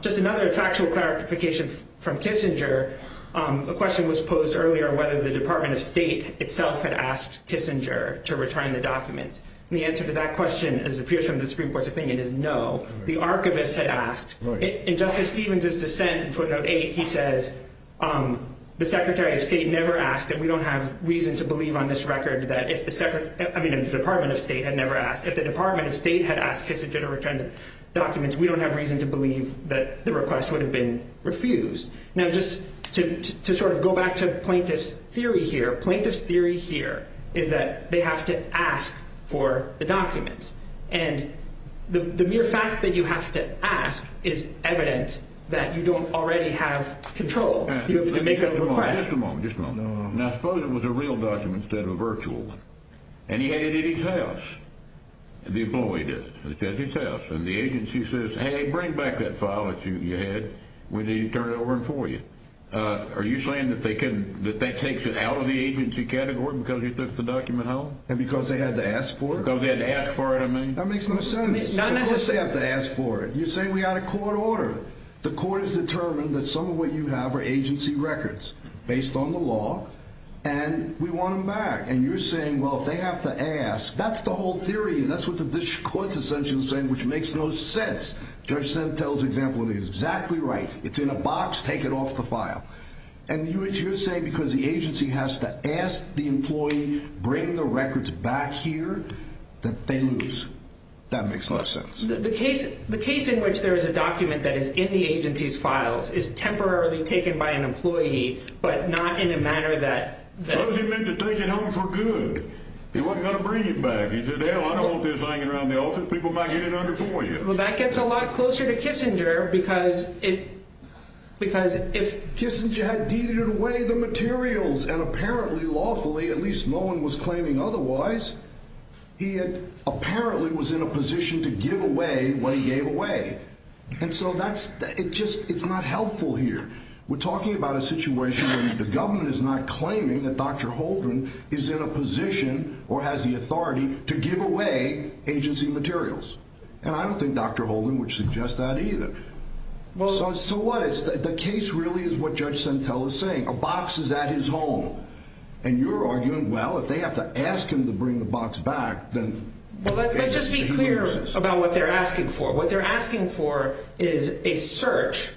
Just another factual clarification from Kissinger, a question was posed earlier whether the Department of State itself had asked Kissinger to return the documents, and the answer to that question, as appears from the Supreme Court's opinion, is no. The archivist had asked, and Justice Stevens' dissent in footnote 8, he says, the Secretary of State never asked, and we don't have reason to believe on this record that if the Department of State had never asked, if the Department of State had asked Kissinger to return the documents, we don't have reason to believe that the request would have been refused. Now, just to sort of go back to plaintiff's theory here, plaintiff's theory here is that they have to ask for the documents, and the mere fact that you have to ask is evidence that you don't already have control. You have to make a request. Just a moment, just a moment. Now, I suppose it was a real document instead of a virtual one, and he had it at his house, the employee did, at his house, and the agency says, hey, bring back that file that you had, we need to turn it over for you. Are you saying that they can, that that takes it out of the agency category because you took the document home? And because they had to ask for it? Because they had to ask for it, I mean. That makes no sense. It's not necessary. Because they have to ask for it. You're saying we got a court order. The court has determined that some of what you have are agency records, based on the law, and we want them back. And you're saying, well, if they have to ask, that's the whole theory, and that's what the district court's essentially saying, which makes no sense. Judge Sentel's example is exactly right. It's in a box, take it off the file. And you're saying because the agency has to ask the employee, bring the records back here, that they lose. That makes a lot of sense. The case in which there is a document that is in the agency's files is temporarily taken by an employee, but not in a manner that... Because he meant to take it home for good. He wasn't going to bring it back. He said, hell, I don't want this hanging around the office. People might get it under for you. Well, that gets a lot closer to Kissinger because it, because if... Kissinger had treated away the materials, and apparently lawfully, at least no one was claiming otherwise, he had apparently was in a position to give away what he gave away. And so that's... It's not helpful here. We're talking about a situation where the government is not claiming that Dr. Holdren is in a position, or has the authority, to give away agency materials. And I don't think Dr. Holdren would suggest that either. So what? The case really is what Judge Sentell is saying. A box is at his home. And you're arguing, well, if they have to ask him to bring the box back, then... Well, let's just be clear about what they're asking for. What they're asking for is a search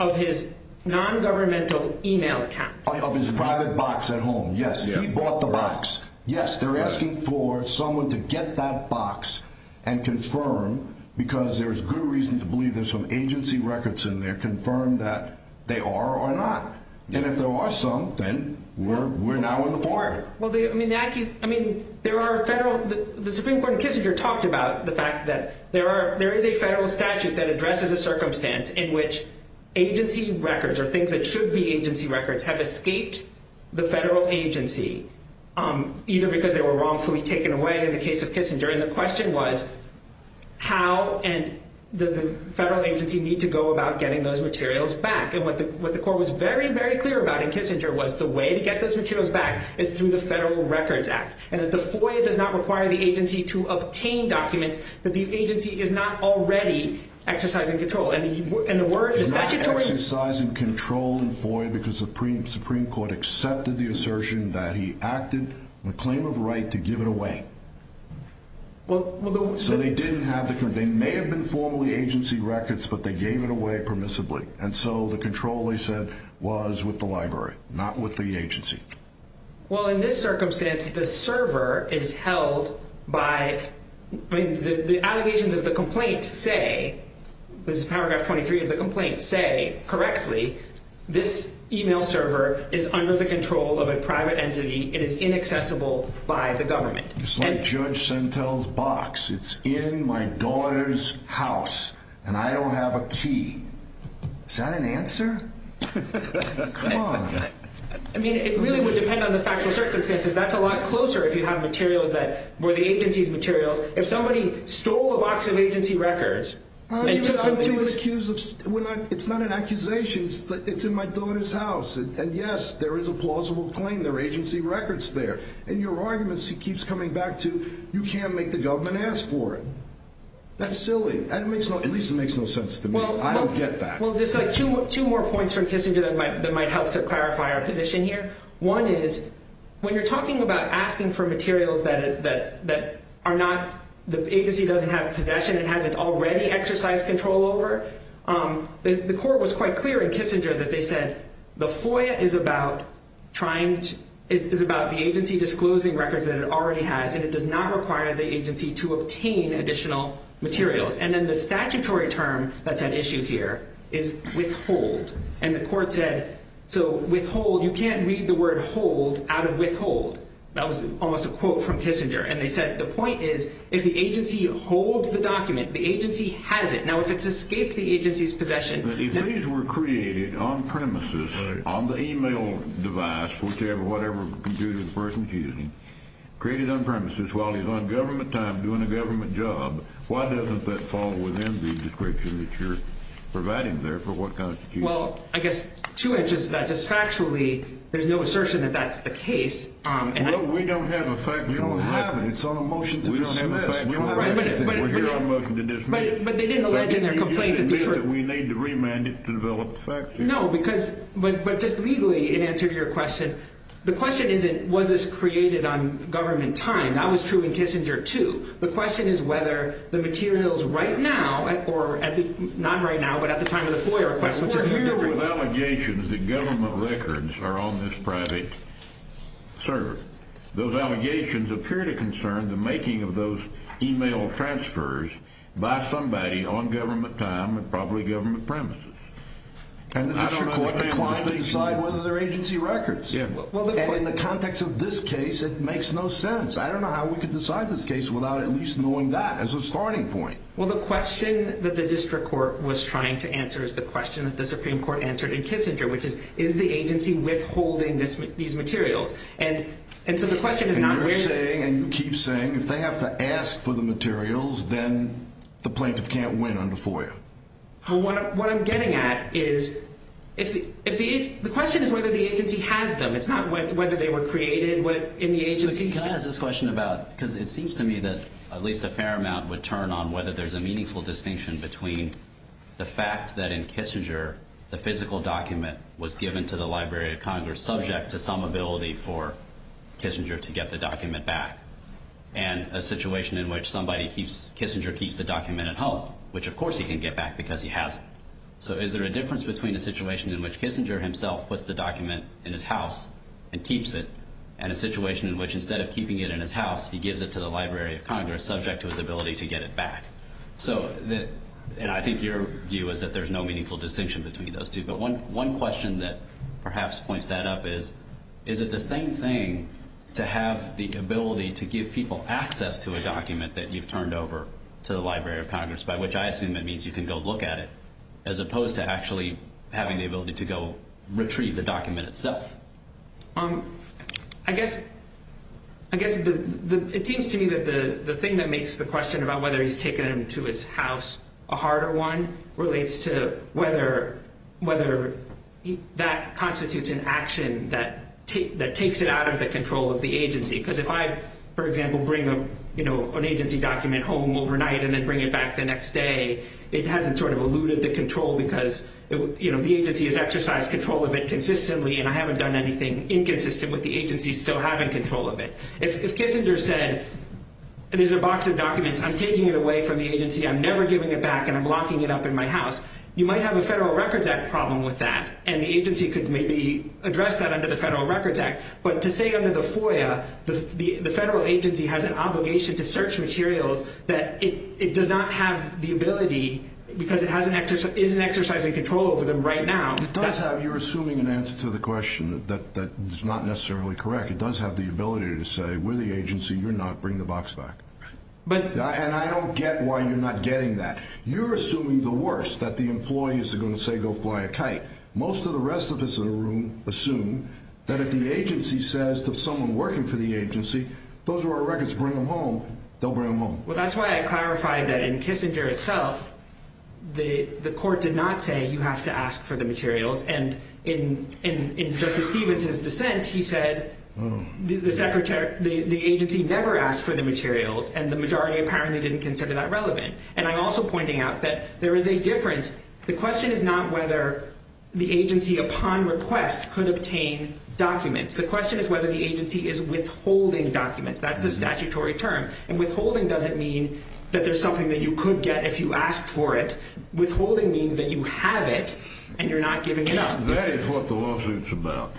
of his non-governmental email account. Of his private box at home. Yes. He bought the box. Yes, they're asking for someone to get that box and confirm, because there's good reason to believe there's some agency records in there, confirm that they are or not. And if there are some, then we're now in the fire. I mean, there are federal... The Supreme Court in Kissinger talked about the fact that there is a federal statute that addresses a circumstance in which agency records, or things that should be agency records, have escaped the federal agency, either because they were wrongfully taken away in the case of Kissinger. And the question was, how and does the federal agency need to go about getting those materials back? And what the court was very, very clear about in Kissinger was the way to get those materials back is through the Federal Records Act. And that the FOIA does not require the agency to obtain documents that the agency is not already exercising control. And the statutory... He's not exercising control in FOIA because the Supreme Court accepted the assertion that he acted on a claim of right to give it away. So they didn't have... They may have been formally agency records, but they gave it away permissibly. And so the control they said was with the library, not with the agency. Well, in this circumstance, the server is held by... I mean, the allegations of the complaint say, this is paragraph 23 of the complaint, say, correctly, this email server is under the control of a private entity. It is inaccessible by the government. It's like Judge Sentel's box. It's in my daughter's house, and I don't have a key. Is that an answer? I mean, it really would depend on the factual circumstances. That's a lot closer if you have materials that were the agency's materials. If somebody stole a box of agency records... It's not an accusation. It's in my daughter's house. And yes, there is a plausible claim. There are agency records there. And your argument keeps coming back to you can't make the government ask for it. That's silly. At least it makes no sense to me. I don't get that. Two more points from Kissinger that might help to clarify our position here. One is, when you're talking about asking for materials that are not... The agency doesn't have possession. It hasn't already exercised control over. The court was quite clear in Kissinger that they said the FOIA is about the agency disclosing records that it already has, and it does not require the agency to obtain additional materials. And then the statutory term that's at issue here is withhold. And the court said, you can't read the word hold out of withhold. That was almost a quote from Kissinger. And they said the point is, if the agency holds the document, the agency has it. Now, if it's escaped the agency's possession... If these were created on-premises, on the email device, whatever computer the person's using, created on-premises while he's on government time doing a government job, why doesn't that fall within the description that you're providing there for what constitutes... Well, I guess two inches to that. Just factually, there's no assertion that that's the case. Well, we don't have a factual... We don't have a motion to dismiss. But they didn't allege in their complaint that... We need to remand it to develop the facts here. No, but just legally, in answer to your question, the question isn't, was this created on government time? That was true in Kissinger, too. The question is whether the materials right now, or not right now, but at the time of the FOIA request, which is... We're dealing with allegations that government records are on this private server. Those allegations appear to concern the making of those email transfers by somebody on government time and probably government-premises. And the district court may have... I don't know if the client can decide whether they're agency records. And in the context of this case, it makes no sense. I don't know how we could decide this case without at least knowing that as a starting point. Well, the question that the district court was trying to answer is the question that the Supreme Court answered in Kissinger, which is, is the agency withholding these materials? And so the question is not... And you're saying, and you keep saying, if they have to ask for the materials, then the plaintiff can't win on the FOIA. What I'm getting at is, the question is whether the agency has them. It's not whether they were created in the agency. But can I ask this question about, because it seems to me that at least a fair amount would turn on whether there's a meaningful distinction between the fact that in Kissinger, the physical document was given to the Library of Congress for Kissinger to get the document back, and a situation in which Kissinger keeps the document at home, which of course he can get back because he has it. So is there a difference between a situation in which Kissinger himself puts the document in his house and keeps it, and a situation in which instead of keeping it in his house, he gives it to the Library of Congress, subject to his ability to get it back? And I think your view is that there's no meaningful distinction between those two. But one question that perhaps points that up is, is it the same thing to have the ability to give people access to a document that you've turned over to the Library of Congress, by which I assume it means you can go look at it, as opposed to actually having the ability to go retrieve the document itself? I guess it seems to me that the thing that makes the question about whether he's taken it to his house a harder one relates to whether that constitutes an action that takes it out of the control of the agency. Because if I, for example, bring an agency document home overnight and then bring it back the next day, it hasn't eluded the control because the agency has exercised control of it consistently, and I haven't done anything inconsistent with the agency still having control of it. If Kissinger said, there's a box of documents, I'm taking it away from the agency, I'm never giving it back, and I'm locking it up in my house, you might have a Federal Records Act problem with that, and the agency could maybe address that under the Federal Records Act. But to say under the FOIA the federal agency has an obligation to search materials that it does not have the ability, because it isn't exercising control over them right now... It does have, you're assuming an answer to the question that's not necessarily correct. It does have the ability to say, with the agency, you're not bringing the box back. And I don't get why you're not getting that. You're assuming the worst, that the employees are going to say, go fly a kite. Most of the rest of us in the room assume that if the agency says to someone working for the agency, those are our records, bring them home, they'll bring them home. Well, that's why I clarified that in Kissinger itself, the court did not say, you have to ask for the materials, and in Justice Stevens' dissent, he said, the agency never asked for the materials, and the majority apparently didn't consider that relevant. And I'm also pointing out that there is a difference. The question is not whether the agency upon request could obtain documents. The question is whether the agency is withholding documents. That's the statutory term. And withholding doesn't mean that there's something that you could get if you asked for it. Withholding means that you have it and you're not giving it up. That is what the lawsuit's about.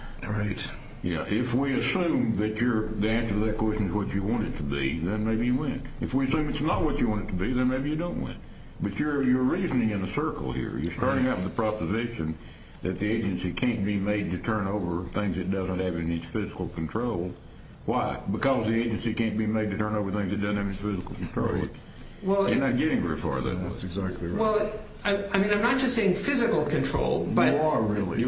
If we assume that the answer to that question is what you want it to be, then maybe you win. If we assume it's not what you want it to be, then maybe you don't win. But you're reasoning in a circle here. You're starting out with the proposition that the agency can't be made to turn over things it doesn't have in its physical control. Why? Because the agency can't be made to turn over things it doesn't have in its physical control. You're not getting very far, though. I'm not just saying physical control. You are, really.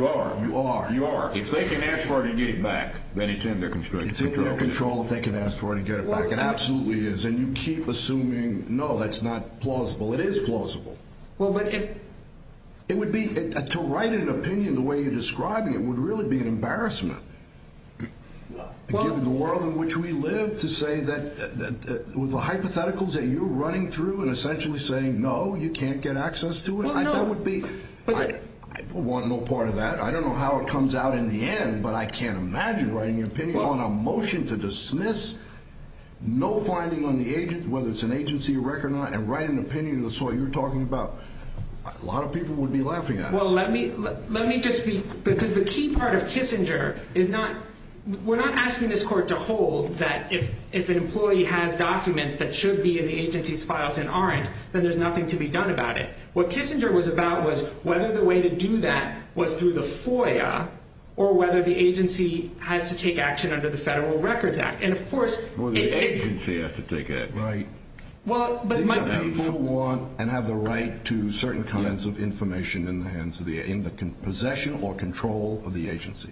If they can ask for it and get it back, then it's in their constructive control. It's in their control if they can ask for it and get it back. It absolutely is. And you keep assuming, no, that's not plausible. It is plausible. To write an opinion the way you're describing it would really be an embarrassment. Given the world in which we live, to say that the hypotheticals that you're running through and essentially saying, no, you can't get access to it, I don't want no part of that. I don't know how it comes out in the end, but I can't imagine writing an opinion on a motion to dismiss no finding on the agent, whether it's an agency or rec or not, and write an opinion that's what you're talking about. A lot of people would be laughing at us. Well, let me just be, because the key part of Kissinger is not, we're not asking this court to hold that if an employee has documents that should be in the agency's files and aren't, then there's nothing to be done about it. What Kissinger was about was whether the way to do that was through the FOIA or whether the agency has to take action under the Federal Records Act. Or the agency has to take action. People want and have the right to certain kinds of information in the possession or control of the agency.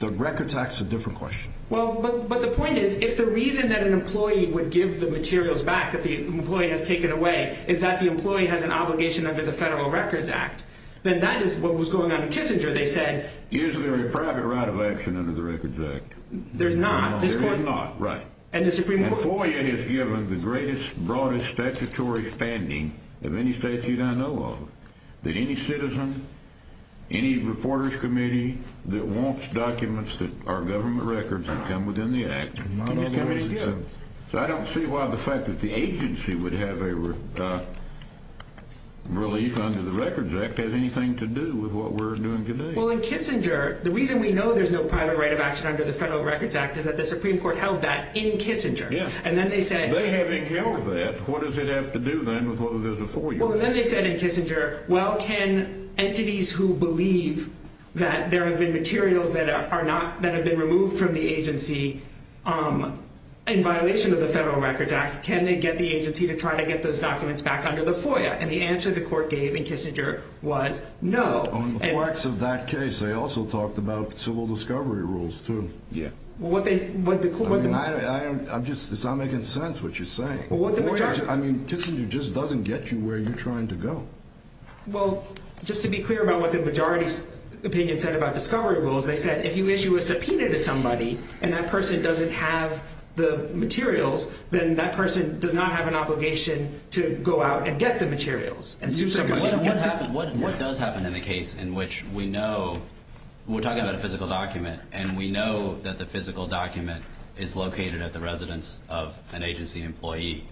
The Records Act's a different question. But the point is, if the reason that an employee would give the materials back that the employee has taken away is that the employee has an obligation under the Federal Records Act, then that is what was going on in Kissinger. Is there a private right of action under the Records Act? There's not. And FOIA has given the greatest, broadest statutory standing of any statute I know of that any citizen, any reporters committee that wants documents that are government records can come within the act. So I don't see why the fact that the agency would have a private release under the Records Act has anything to do with what we're doing today. Well, in Kissinger, the reason we know there's no private right of action under the Federal Records Act is that the Supreme Court held that in Kissinger. And then they said in Kissinger, well, can entities who believe that there have been materials that have been removed from the agency in violation of the Federal Records Act, can they get the agency to try to get those documents back under the FOIA? And the answer the Court gave in Kissinger was no. On the flex of that case, they also talked about civil discovery rules, too. I'm just, it's not making sense what you're saying. I mean, Kissinger just doesn't get you where you're trying to go. Well, just to be clear about what the majority's opinion said about discovery rules, they said if you issue a subpoena to somebody and that person doesn't have the materials, then that person does not have an obligation to go out and get the materials. What does happen in the case in which we know, we're talking about a physical document, and we know that the physical document is located at the residence of an agency employee,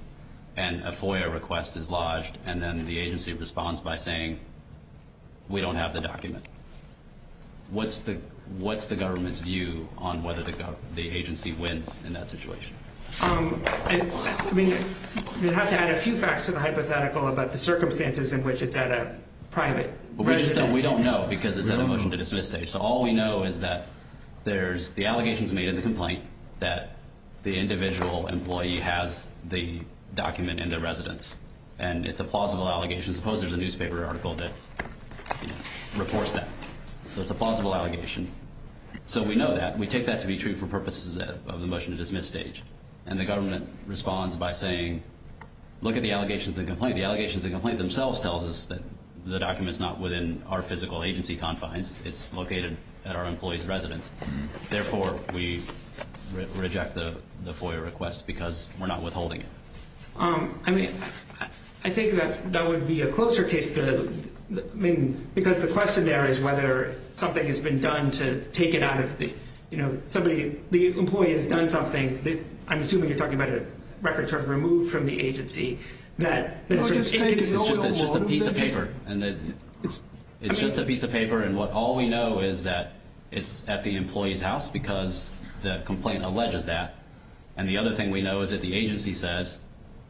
and a FOIA request is lodged, and then the agency responds by saying, we don't have the document. What's the government's view on whether the agency wins in that situation? You'd have to add a few facts to the hypothetical about the circumstances in which it's at a private residence. We don't know, because it's at a motion to dismiss stage. So all we know is that there's the allegations made in the complaint that the individual employee has the document in their residence, and it's a plausible allegation. Suppose there's a newspaper article that reports that. So it's a plausible allegation. So we know that. We take that to be true for purposes of the motion to dismiss stage. And the government responds by saying, look at the allegations in the complaint. The allegations in the complaint themselves tell us that the document is not within our physical agency confines. It's located at our employee's residence. Therefore, we reject the FOIA request because we're not withholding it. I think that would be a closer case, because the question there is whether something has been done to take it out of the employee has done something. I'm assuming you're talking about a record removed from the agency. It's just a piece of paper. All we know is that it's at the employee's house because the complaint alleges that. And the other thing we know is that the agency says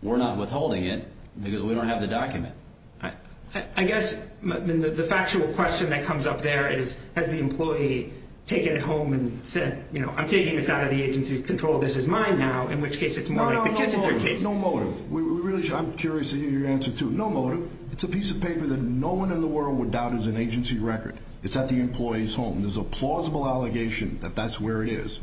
we're not withholding it because we don't have the document. I guess the factual question that comes up there is, has the employee taken it home and said, you know, I'm taking this out of the agency's control. This is mine now, in which case it's more like the Kissinger case. No motive. I'm curious to hear your answer, too. No motive. It's a piece of paper that no one in the world would doubt is an agency record. It's at the employee's home. There's a plausible allegation that that's where it is.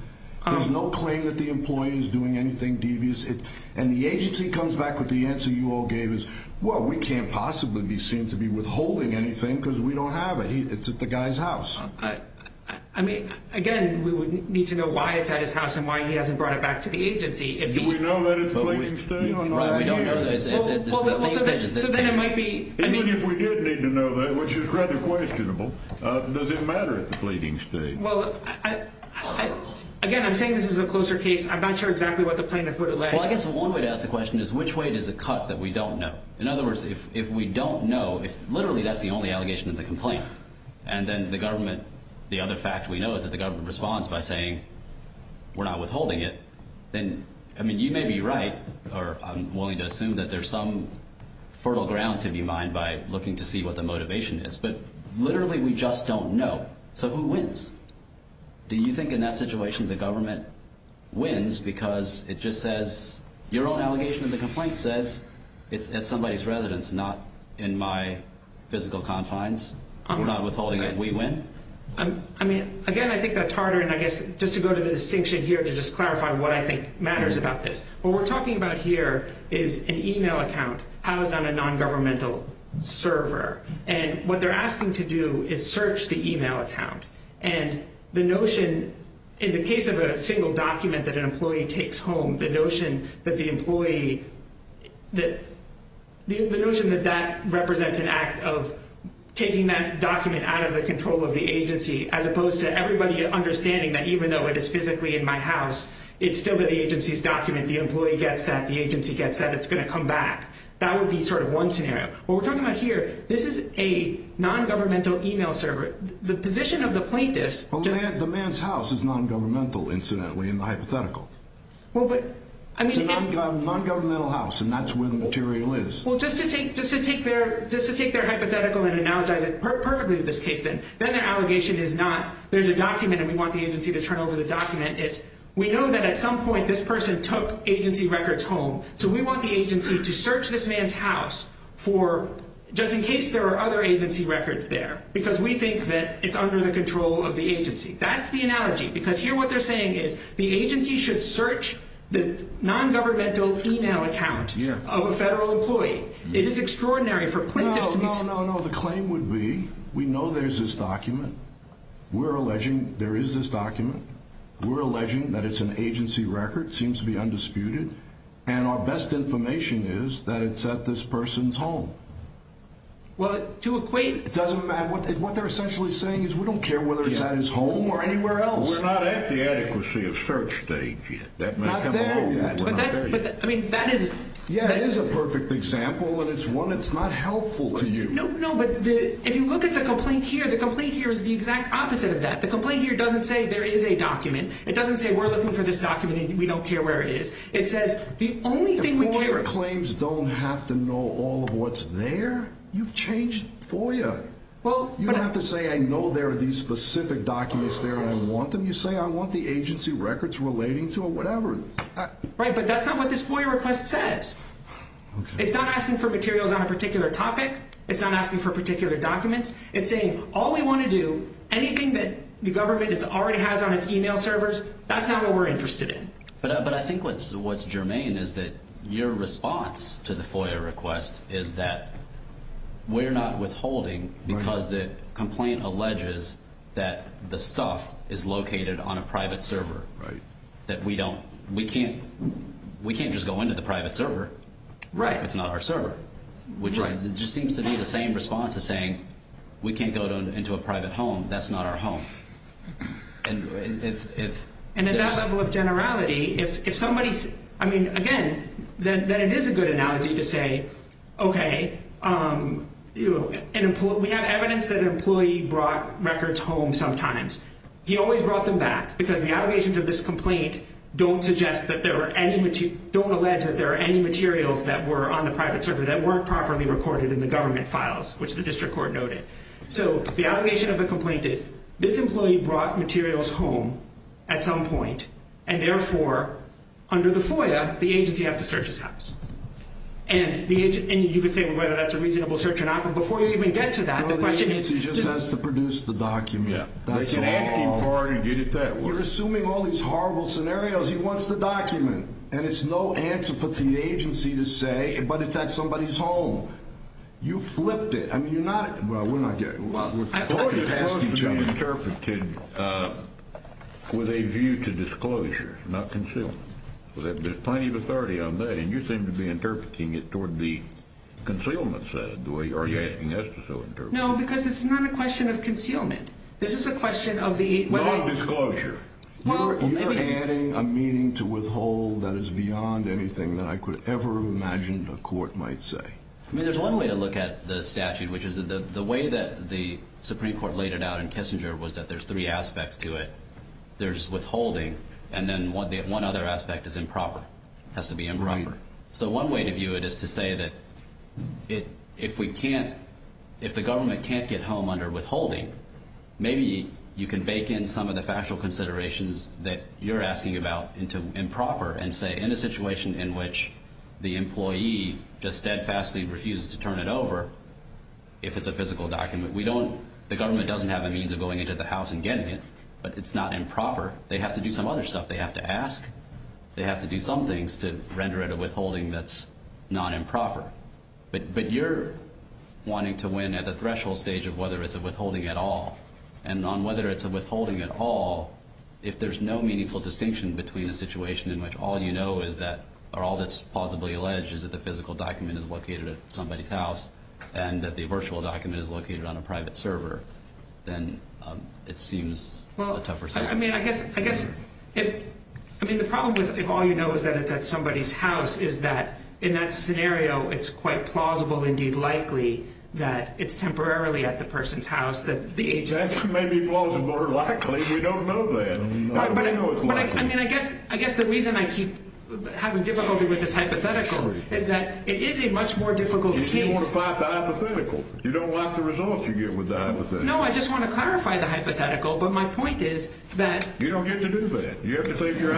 There's no claim that the employee is doing anything devious. And the agency comes back with the answer that the CEO gave is, well, we can't possibly be seen to be withholding anything because we don't have it. It's at the guy's house. Again, we would need to know why it's at his house and why he hasn't brought it back to the agency. Do we know that it's Blading State? Even if we did need to know that, which is rather questionable, does it matter at the Blading State? Again, I'm saying this is a closer case. I'm not sure exactly what the plaintiff would allege. Well, I guess one way to ask the question is, which way does it cut that we don't know? In other words, if we don't know, if literally that's the only allegation in the complaint and then the government, the other fact we know is that the government responds by saying we're not withholding it, then, I mean, you may be right or I'm willing to assume that there's some fertile ground to be mined by looking to see what the motivation is, but literally we just don't know. So who wins? Do you think in that situation the government wins because it just says your own allegation in the complaint says it's at somebody's residence, not in my physical confines? We're not withholding it. We win? Again, I think that's harder, and I guess just to go to the distinction here to just clarify what I think matters about this. What we're talking about here is an email account housed on a non-governmental server, and what they're asking to do is search the email account, and the notion in the case of a single document that an employee takes home, the notion that the employee, the notion that that represents an act of taking that document out of the control of the agency as opposed to everybody understanding that even though it is physically in my house, it's still the agency's document. The employee gets that. The agency gets that. It's going to come back. That would be sort of one scenario. What we're talking about here, this is a non-governmental email server. The position of the plaintiffs... The man's house is non-governmental, incidentally, in the hypothetical. It's a non-governmental house, and that's where the material is. Just to take their hypothetical and analogize it perfectly to this case, then their allegation is not there's a document, and we want the agency to turn over the document. We know that at some point, this person took agency records home, so we want the agency to search this man's house just in case there are other agency records there because we think that it's under the control of the agency. That's the analogy because here what they're saying is the agency should search the non-governmental email account of a federal employee. It is extraordinary for plaintiffs to be... No, no, no. The claim would be we know there's this document. We're alleging there is this document. We're alleging that it's an agency record. It seems to be undisputed, and our best information is that it's at this person's home. Well, to equate... It doesn't matter. What they're essentially saying is we don't care whether it's at his home or anywhere else. We're not at the adequacy of search stage yet. Not there yet. I mean, that is... Yeah, it is a perfect example, and it's one that's not helpful to you. No, but if you look at the complaint here, the complaint here is the exact opposite of that. The complaint here doesn't say there is a document. It doesn't say we're looking for this document, and we don't care where it is. It says the only thing we care... Employer claims don't have to know all of what's there. You've changed FOIA. You don't have to say I know there are these specific documents there, and I want them. You say I want the agency records relating to a whatever. Right, but that's not what this FOIA request says. It's not asking for materials on a particular topic. It's not asking for particular documents. It's saying all we want to do, anything that the government already has on its email servers, that's not what we're interested in. But I think what's germane is that your response to the FOIA request is that we're not withholding because the complaint alleges that the stuff is located on a private server. We can't just go into the private server if it's not our server, which just seems to be the same response as saying we can't go into a private home. That's not our home. And at that level of generality, if that is a good analogy to say, okay, we have evidence that an employee brought records home sometimes. He always brought them back because the allegations of this complaint don't suggest that there are any, don't allege that there are any materials that were on the private server that weren't properly recorded in the government files, which the district court noted. So the allegation of the complaint is this employee brought materials home at some point, and therefore under the FOIA, the agency has to search his house. And you could say whether that's a reasonable search or not, but before you even get to that, the question is... He just has to produce the document. You're assuming all these horrible scenarios. He wants the document. And it's no answer for the agency to say, but it's at somebody's home. You flipped it. I mean, you're not, well, we're not getting... We're close to being interpreted with a view to disclosure, not concealment. There's plenty of authority on that, and you seem to be interpreting it toward the concealment side, the way you're asking us to interpret it. No, because it's not a question of concealment. This is a question of the... Not disclosure. You're adding a meaning to withhold that is beyond anything that I could ever imagine a court might say. I mean, there's one way to look at the statute, which is the way that the Supreme Court laid it out in Kissinger was that there's three aspects to withholding, and then one other aspect is improper. It has to be improper. So one way to view it is to say that if the government can't get home under withholding, maybe you can bake in some of the factual considerations that you're asking about into improper and say, in a situation in which the employee just steadfastly refuses to turn it over, if it's a physical document, we don't... The government doesn't have a means of going into the house and getting it, but it's not improper. They have to do some other stuff. They have to ask. They have to do some things to render it a withholding that's non-improper. But you're wanting to win at the threshold stage of whether it's a withholding at all. And on whether it's a withholding at all, if there's no meaningful distinction between a situation in which all you know is that... Or all that's plausibly alleged is that the physical document is located at somebody's house and that the virtual document is located on a private server, then it seems a tougher situation. I mean, I guess if... I mean, the problem with if all you know is that it's at somebody's house is that, in that scenario, it's quite plausible, indeed likely, that it's temporarily at the person's house that the agent... That may be plausible or likely. We don't know that. I mean, I guess the reason I keep having difficulty with this hypothetical is that it is a much more difficult case. You want to fight the hypothetical. You don't like the results you get with the hypothetical. No, I just want to clarify the hypothetical, but my point is that... You don't get to do that. You have to take your...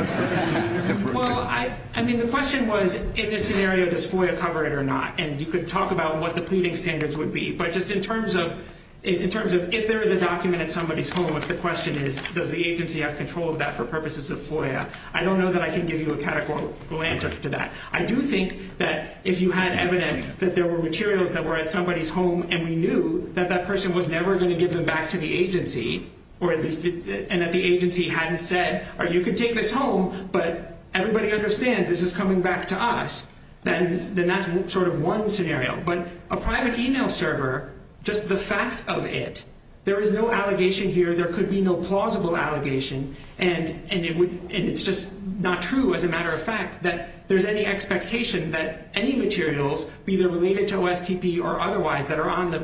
Well, I mean, the question was, in this scenario, does FOIA cover it or not? And you could talk about what the pleading standards would be, but just in terms of if there is a document at somebody's home, if the question is, does the agency have control of that for purposes of FOIA? I don't know that I can give you a categorical answer to that. I do think that if you had evidence that there were materials that were at somebody's home and we knew that that person was never going to give them back to the agency, and that the agency hadn't said, you can take this home, but everybody understands this is coming back to us, then that's sort of one scenario. But a private email server, just the fact of it, there is no allegation here, there could be no plausible allegation, and it's just not true, as a matter of fact, that there's any expectation that any materials, either related to OSTP or otherwise, that are on the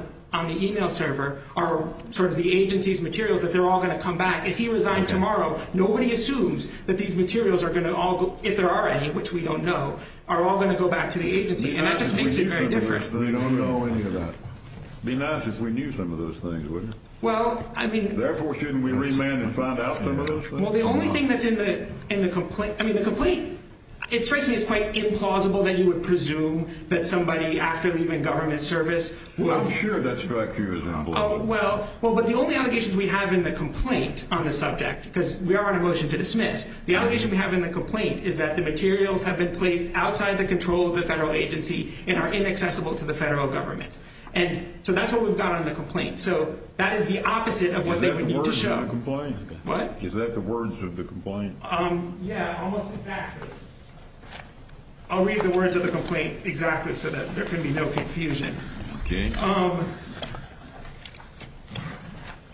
email server are sort of the agency's materials, that they're all going to come back. If he resigned tomorrow, nobody assumes that these materials are going to all go, if there are any, which we don't know, are all going to go back to the agency. And that just makes it very different. It would be nice if we knew some of those things, wouldn't it? Well, I mean... Therefore, shouldn't we remand and find out some of those things? Well, the only thing that's in the complaint... I mean, the complaint, it strikes me as quite implausible that you would presume that somebody after leaving government service... Well, I'm sure that strikes you as unbelievable. Well, but the only allegations we have in the complaint on the subject, because we are on a motion to dismiss, the allegation we have in the complaint is that the materials have been placed outside the control of the federal agency and are inaccessible to the federal government. So that's what we've got on the complaint. So that is the opposite of what they would need to show. Is that the words of the complaint? Yeah, almost exactly. I'll read the words of the complaint exactly so that there can be no confusion.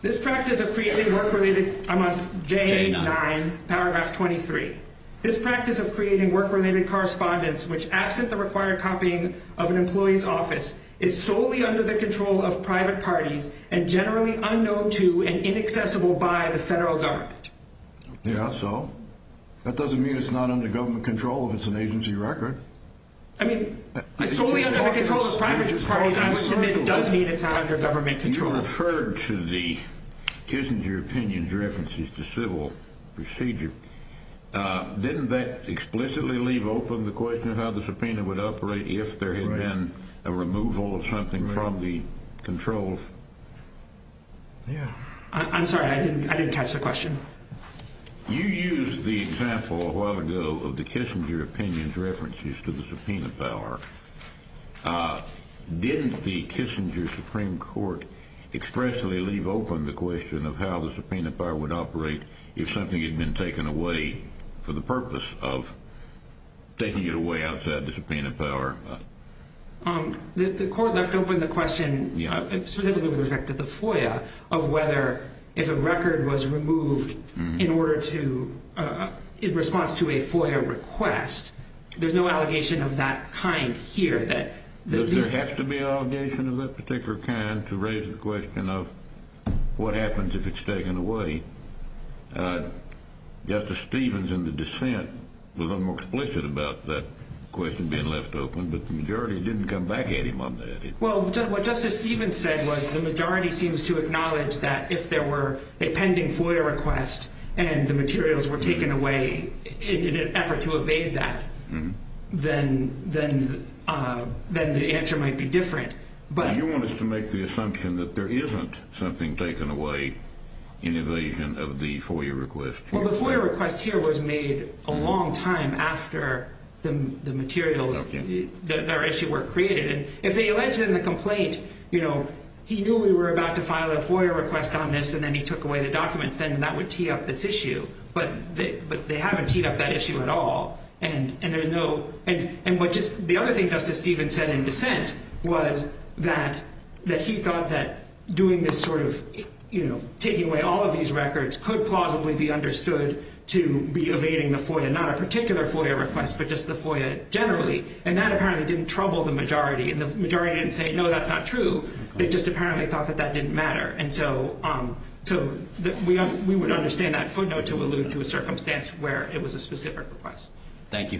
This practice of creating work-related... I'm on J9, paragraph 23. This practice of creating work-related correspondence, which absent the required copying of an employee's office, is solely under the control of private parties and generally unknown to and inaccessible by the federal government. Yeah, so? That doesn't mean it's not under government control if it's an agency record. I mean, solely under the control of private parties, I would submit does mean it's not under government control. You referred to the Kissinger opinion's references to civil procedure. Didn't that explicitly leave open the question of how the subpoena would operate if there had been a removal of something from the controls? I'm sorry, I didn't catch the question. You used the example a while ago of the Kissinger opinion's references to the subpoena power. Didn't the Kissinger Supreme Court expressly leave open the question of how the subpoena power would operate if something had been taken away for the purpose of taking it away outside the subpoena power? The court left open the question specifically with respect to the FOIA of whether if a record was removed in response to a FOIA request, there's no allegation of that kind here. Does there have to be an allegation of that particular kind to raise the question of what happens if it's taken away? Justice Stevens in the dissent was a little more explicit about that question being left open, but the majority didn't come back at him on that. What Justice Stevens said was the majority seems to acknowledge that if there were a pending FOIA request and the materials were taken away in an effort to evade that, then the answer might be different. You want us to make the assumption that there isn't something taken away in evasion of the FOIA request? Well, the FOIA request here was made a long time after the materials, the issue, were created. If they allege in the complaint, he knew we were about to file a FOIA request on this and then he took away the documents, then that would tee up this issue. But they haven't teed up that issue at all. The other thing Justice Stevens said in dissent was that he thought that taking away all of these records could plausibly be understood to be evading the FOIA, not a particular FOIA request, but just the FOIA generally. And that apparently didn't trouble the majority. And the majority didn't say, no, that's not true. They just apparently thought that that didn't matter. So we would understand that footnote to allude to a circumstance where it was a specific request. Thank you.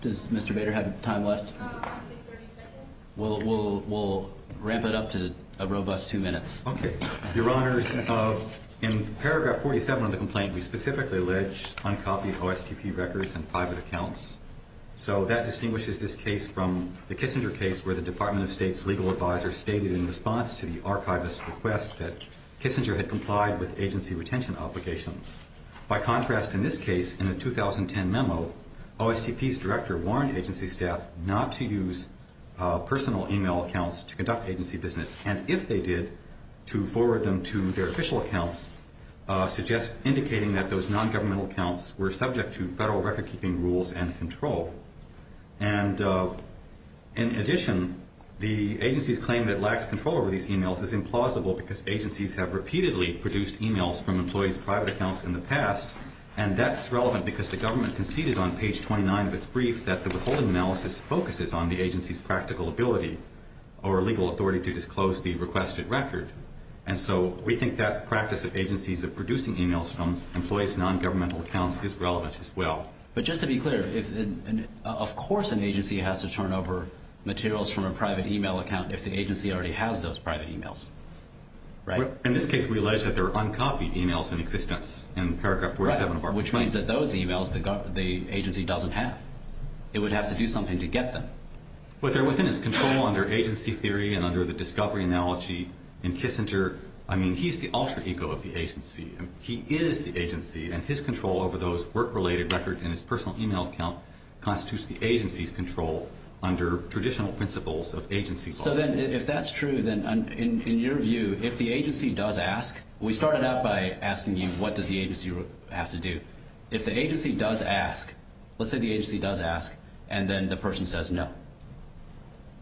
Does Mr. Bader have time left? We'll ramp it up to a robust two minutes. In paragraph 47 of the complaint, we specifically allege uncopied OSTP records and private accounts. So that distinguishes this case from the Kissinger case where the Department of State's legal advisor stated in response to the archivist's request that Kissinger had complied with agency retention obligations. By contrast, in this case, in the 2010 memo, OSTP's request was not to use personal email accounts to conduct agency business. And if they did, to forward them to their official accounts suggests indicating that those nongovernmental accounts were subject to federal recordkeeping rules and control. And in addition, the agency's claim that it lacks control over these emails is implausible because agencies have repeatedly produced emails from employees' private accounts in the past. And that's relevant because the government conceded on page 29 of its brief that the withholding analysis focuses on the agency's practical ability or legal authority to disclose the requested record. And so we think that practice of agencies producing emails from employees' nongovernmental accounts is relevant as well. But just to be clear, of course an agency has to turn over materials from a private email account if the agency already has those private emails, right? In this case, we allege that there are uncopied emails in existence in paragraph 47 of our complaint. Right, which means that those emails the agency doesn't have. It would have to do something to get them. But they're within its control under agency theory and under the discovery analogy in Kissinger. I mean, he's the alter ego of the agency. He is the agency, and his control over those work-related records in his personal email account constitutes the agency's control under traditional principles of agency law. So then, if that's true, then in your view, if the agency does ask, we started out by asking you what does the agency have to do? If the agency does ask, let's say the agency does ask, and then the person says no.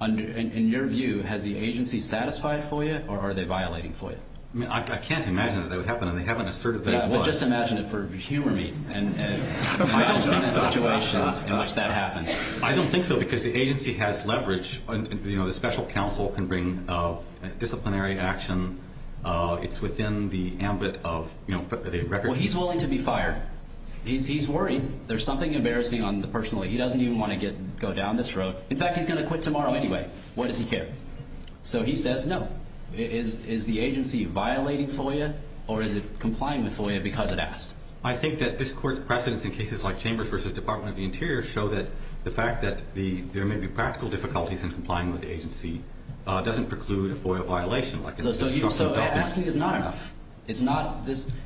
In your view, has the agency satisfied for you, or are they violating for you? I mean, I can't imagine that that would happen, and they haven't asserted that it was. Yeah, well, just imagine it for humor me, and imagine a situation in which that happens. I don't think so, because the agency has leverage. You know, the special counsel can bring disciplinary action. It's within the The agency is willing to be fired. He's worried. There's something embarrassing on the personal. He doesn't even want to go down this road. In fact, he's going to quit tomorrow anyway. What does he care? So he says no. Is the agency violating FOIA, or is it complying with FOIA because it asked? I think that this court's precedence in cases like Chambers v. Department of the Interior show that the fact that there may be practical difficulties in complying with the agency doesn't preclude a FOIA violation. So asking is not enough.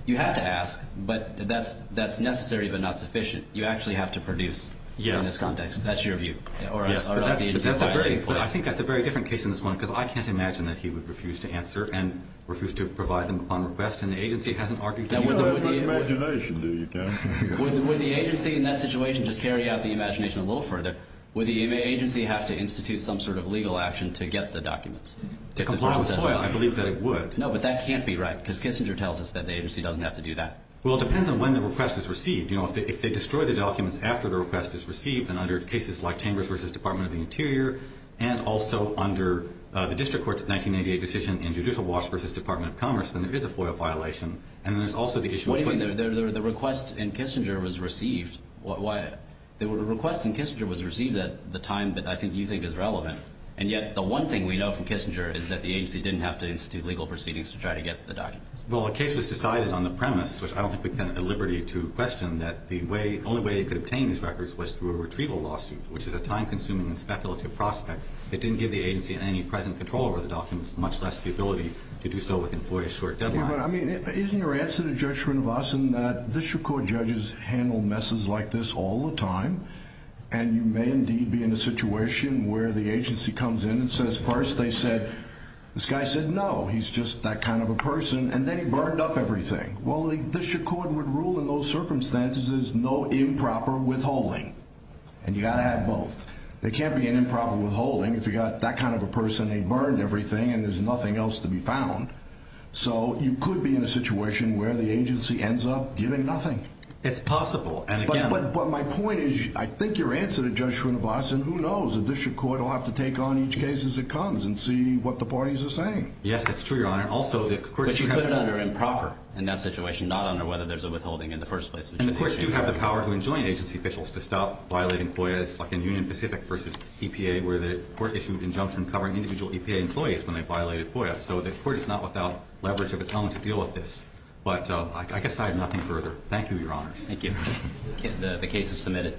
You have to ask, but that's necessary but not sufficient. You actually have to produce in this context. That's your view, or else the agency is violating FOIA. I think that's a very different case in this one, because I can't imagine that he would refuse to answer and refuse to provide them upon request, and the agency hasn't argued to do that. Would the agency in that situation just carry out the imagination a little further? Would the agency have to institute some sort of legal action to get the documents? To comply with FOIA, I believe that it would. No, but that can't be right, because Kissinger tells us that the agency doesn't have to do that. Well, it depends on when the request is received. If they destroy the documents after the request is received, then under cases like Chambers v. Department of the Interior, and also under the District Court's 1988 decision in Judicial Watch v. Department of Commerce, then there is a FOIA violation. What do you mean? The request in Kissinger was received. The request in Kissinger was received at the time that I think you think is relevant, and yet the one thing we know from Kissinger is that the agency didn't have to institute legal proceedings to try to get the documents. Well, a case was decided on the premise, which I don't think we can at liberty to question, that the only way it could obtain these records was through a retrieval lawsuit, which is a time-consuming and speculative prospect. It didn't give the agency any present control over the documents, much less the ability to do so within FOIA's short deadline. Isn't your answer to Judge Schrinversen that District Court judges handle messes like this all the time, and you may indeed be in a situation where the agency comes in and says, first they said, this guy said no, he's just that kind of a person, and then he burned up everything. Well, the District Court would rule in those circumstances there's no improper withholding, and you've got to have both. There can't be an improper withholding if you've got that kind of a person, he burned everything, and there's nothing else to be found. So, you could be in a situation where the agency ends up giving nothing. It's possible. But my point is, I think your answer to Judge Schrinversen, who knows, the District Court will have to take on each case as it comes and see what the parties are saying. Yes, it's true, Your Honor. But you put it under improper in that situation, not under whether there's a withholding in the first place. And the courts do have the power to enjoin agency officials to stop violating FOIA, like in Union Pacific v. EPA, where the court issued injunction covering individual EPA employees when they violated FOIA. So the court is not without leverage of its own to deal with this. But I guess I have nothing further. Thank you, Your Honors. The case is submitted.